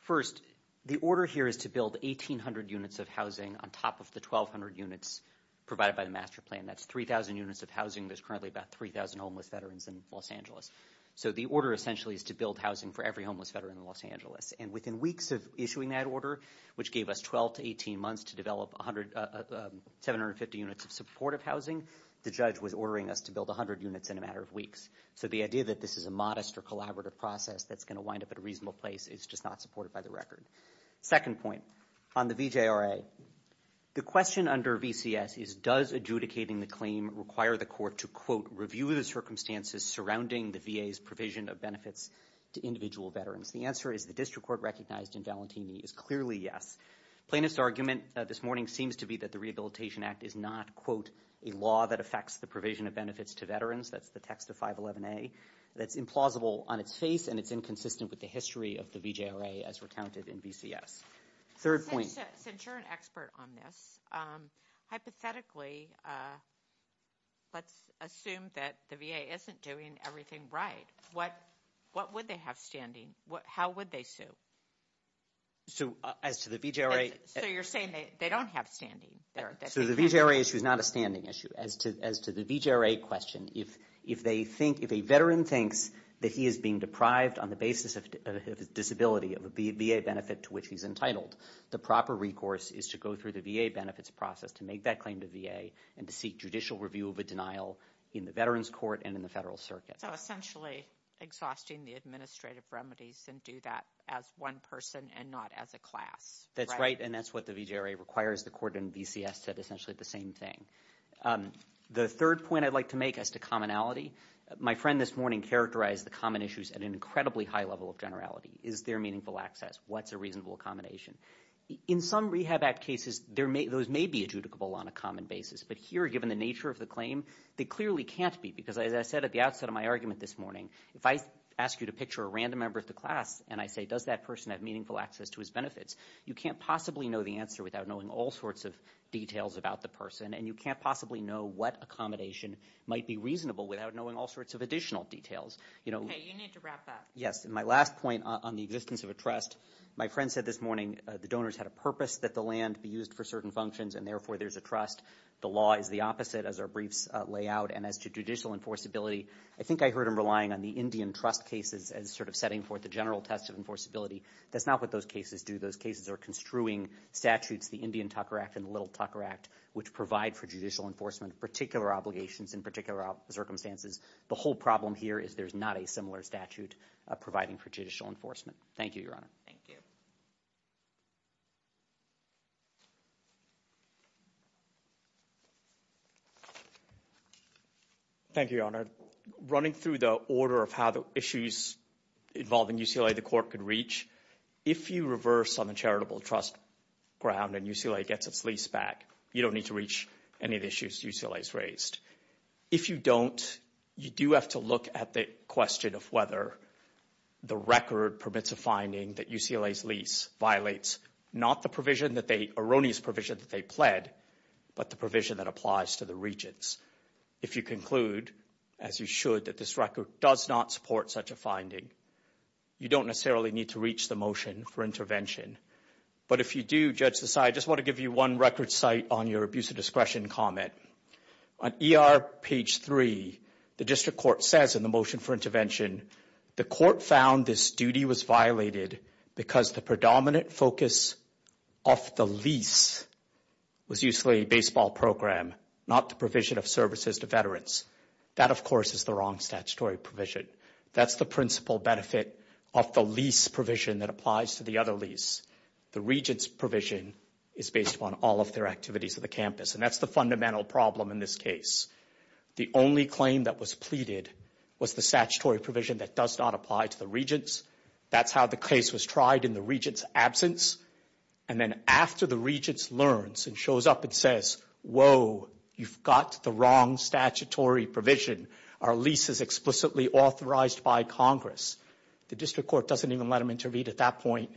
First, the order here is to build 1,800 units of housing on top of the 1,200 units provided by the master plan. That's 3,000 units of housing. There's currently about 3,000 homeless veterans in Los Angeles. So the order essentially is to build housing for every homeless veteran in Los Angeles. And within weeks of issuing that order, which gave us 12 to 18 months to develop 750 units of supportive housing, the judge was ordering us to build 100 units in a matter of weeks. So the idea that this is a modest or collaborative process that's going to wind up at a reasonable place is just not supported by the record. Second point, on the BJRA, the question under VCS is, does adjudicating the claim require the court to, quote, review the circumstances surrounding the VA's provision of benefits to individual veterans? The answer is the district court recognized in Valentini is clearly yes. Plaintiff's argument this morning seems to be that the Rehabilitation Act is not, quote, a law that affects the provision of benefits to veterans. That's the text of 511A. That's implausible on its face, and it's inconsistent with the history of the BJRA as recounted in VCS. Third point. Since you're an expert on this, hypothetically, let's assume that the VA isn't doing everything right. What would they have standing? How would they sue? As to the BJRA. So you're saying they don't have standing. So the BJRA issue is not a standing issue. As to the BJRA question, if they think, if a veteran thinks that he is being deprived on the basis of disability of a VA benefit to which he's entitled, the proper recourse is to go through the VA benefits process to make that claim to VA and to seek judicial review of a denial in the veterans court and in the federal circuit. So essentially exhausting the administrative remedies and do that as one person and not as a class. That's right, and that's what the BJRA requires. The court in VCS said essentially the same thing. The third point I'd like to make as to commonality. My friend this morning characterized the common issues at an incredibly high level of generality. Is there meaningful access? What's a reasonable accommodation? In some Rehab Act cases, those may be adjudicable on a common basis, but here, given the nature of the claim, they clearly can't be, because as I said at the outset of my argument this morning, if I ask you to picture a random member of the class and I say, does that person have meaningful access to his benefits, you can't possibly know the answer without knowing all sorts of details about the person, and you can't possibly know what accommodation might be reasonable without knowing all sorts of additional details. Okay, you need to wrap up. Yes, and my last point on the existence of a trust. My friend said this morning the donors had a purpose that the land be used for certain functions, and therefore there's a trust. The law is the opposite, as our briefs lay out, and as to judicial enforceability, I think I heard him relying on the Indian trust cases as sort of setting forth the general test of enforceability. That's not what those cases do. Those cases are construing statutes, the Indian Tucker Act and the Little Tucker Act, which provide for judicial enforcement of particular obligations in particular circumstances. The whole problem here is there's not a similar statute providing for judicial enforcement. Thank you, Your Honor. Thank you. Thank you, Your Honor. Running through the order of how the issues involving UCLA the court could reach, if you reverse on a charitable trust ground and UCLA gets its lease back, you don't need to reach any of the issues UCLA has raised. If you don't, you do have to look at the question of whether the record permits a finding that UCLA's lease violates not the erroneous provision that they pled, but the provision that applies to the regents. If you conclude, as you should, that this record does not support such a finding, you don't necessarily need to reach the motion for intervention. But if you do, Judge Desai, I just want to give you one record site on your abuse of discretion comment. On ER page 3, the district court says in the motion for intervention, the court found this duty was violated because the predominant focus off the lease was UCLA baseball program, not the provision of services to veterans. That, of course, is the wrong statutory provision. That's the principal benefit of the lease provision that applies to the other lease. The regents' provision is based on all of their activities on the campus, and that's the fundamental problem in this case. The only claim that was pleaded was the statutory provision that does not apply to the regents. That's how the case was tried in the regents' absence. And then after the regents learns and shows up and says, whoa, you've got the wrong statutory provision, our lease is explicitly authorized by Congress, the district court doesn't even let them intervene at that point.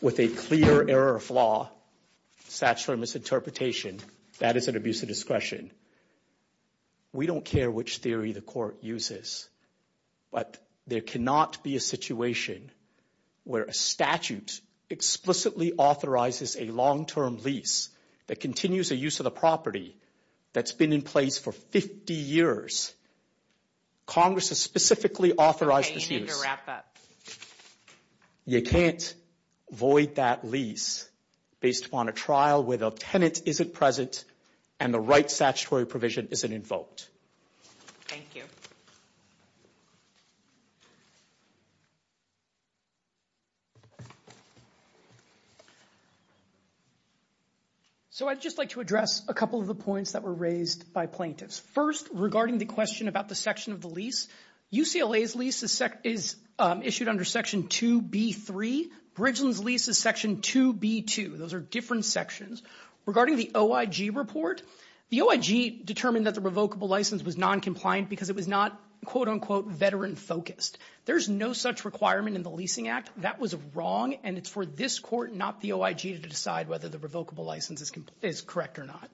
With a clear error of law, statutory misinterpretation, that is an abuse of discretion. We don't care which theory the court uses, but there cannot be a situation where a statute explicitly authorizes a long-term lease that continues the use of the property that's been in place for 50 years. Congress has specifically authorized the lease. I need you to wrap up. You can't void that lease based upon a trial where the tenant isn't present and the right statutory provision isn't invoked. Thank you. So I'd just like to address a couple of the points that were raised by plaintiffs. First, regarding the question about the section of the lease, UCLA's lease is issued under Section 2B3. Bridgeland's lease is Section 2B2. Those are different sections. Regarding the OIG report, the OIG determined that the revocable license was noncompliant because it was not, quote-unquote, veteran-focused. There's no such requirement in the Leasing Act. That was wrong, and it's for this court, not the OIG, to decide whether the revocable license is correct or not.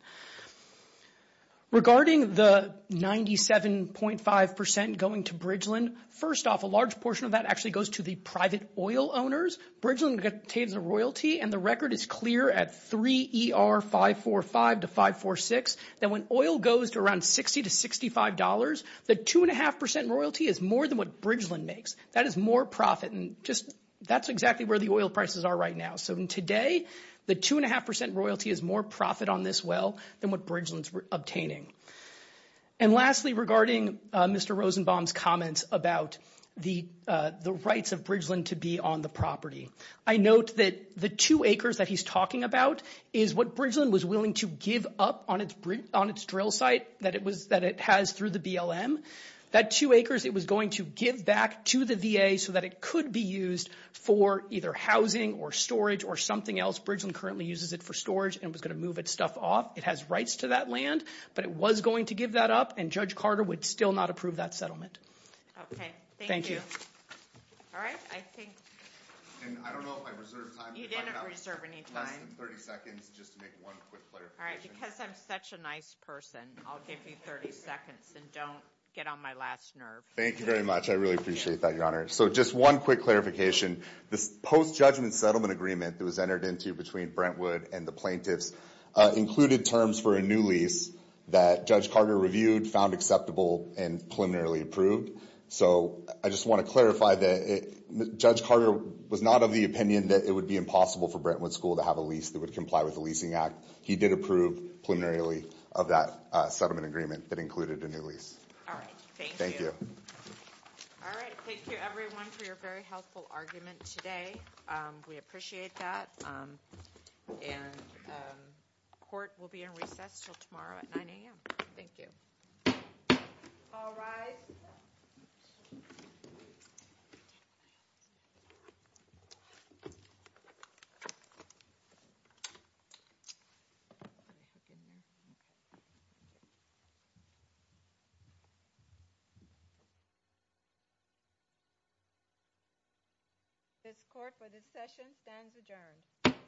Regarding the 97.5% going to Bridgeland, first off, a large portion of that actually goes to the private oil owners. Bridgeland obtains a royalty, and the record is clear at 3ER545 to 546, that when oil goes to around $60 to $65, the 2.5% royalty is more than what Bridgeland makes. That is more profit, and that's exactly where the oil prices are right now. So today, the 2.5% royalty is more profit on this well than what Bridgeland's obtaining. And lastly, regarding Mr. Rosenbaum's comments about the rights of Bridgeland to be on the property, I note that the two acres that he's talking about is what Bridgeland was willing to give up on its drill site that it has through the BLM. That two acres, it was going to give back to the VA so that it could be used for either housing or storage or something else. Bridgeland currently uses it for storage and was going to move its stuff off. It has rights to that land, but it was going to give that up, and Judge Carter would still not approve that settlement. Okay, thank you. All right, I think— And I don't know if I reserved time— You didn't reserve any time. 30 seconds just to make one quick clarification. All right, because I'm such a nice person, I'll give you 30 seconds, and don't get on my last nerve. Thank you very much. I really appreciate that, Your Honor. So just one quick clarification. The post-judgment settlement agreement that was entered into between Brentwood and the plaintiffs included terms for a new lease that Judge Carter reviewed, found acceptable, and preliminarily approved. So I just want to clarify that Judge Carter was not of the opinion that it would be impossible for Brentwood School to have a lease that would comply with the Leasing Act. He did approve preliminarily of that settlement agreement that included a new lease. All right, thank you. Thank you. All right, thank you, everyone, for your very helpful arguments today. We appreciate that. And court will be in recess until tomorrow at 9 a.m. Thank you. All rise. This court for this session stands adjourned.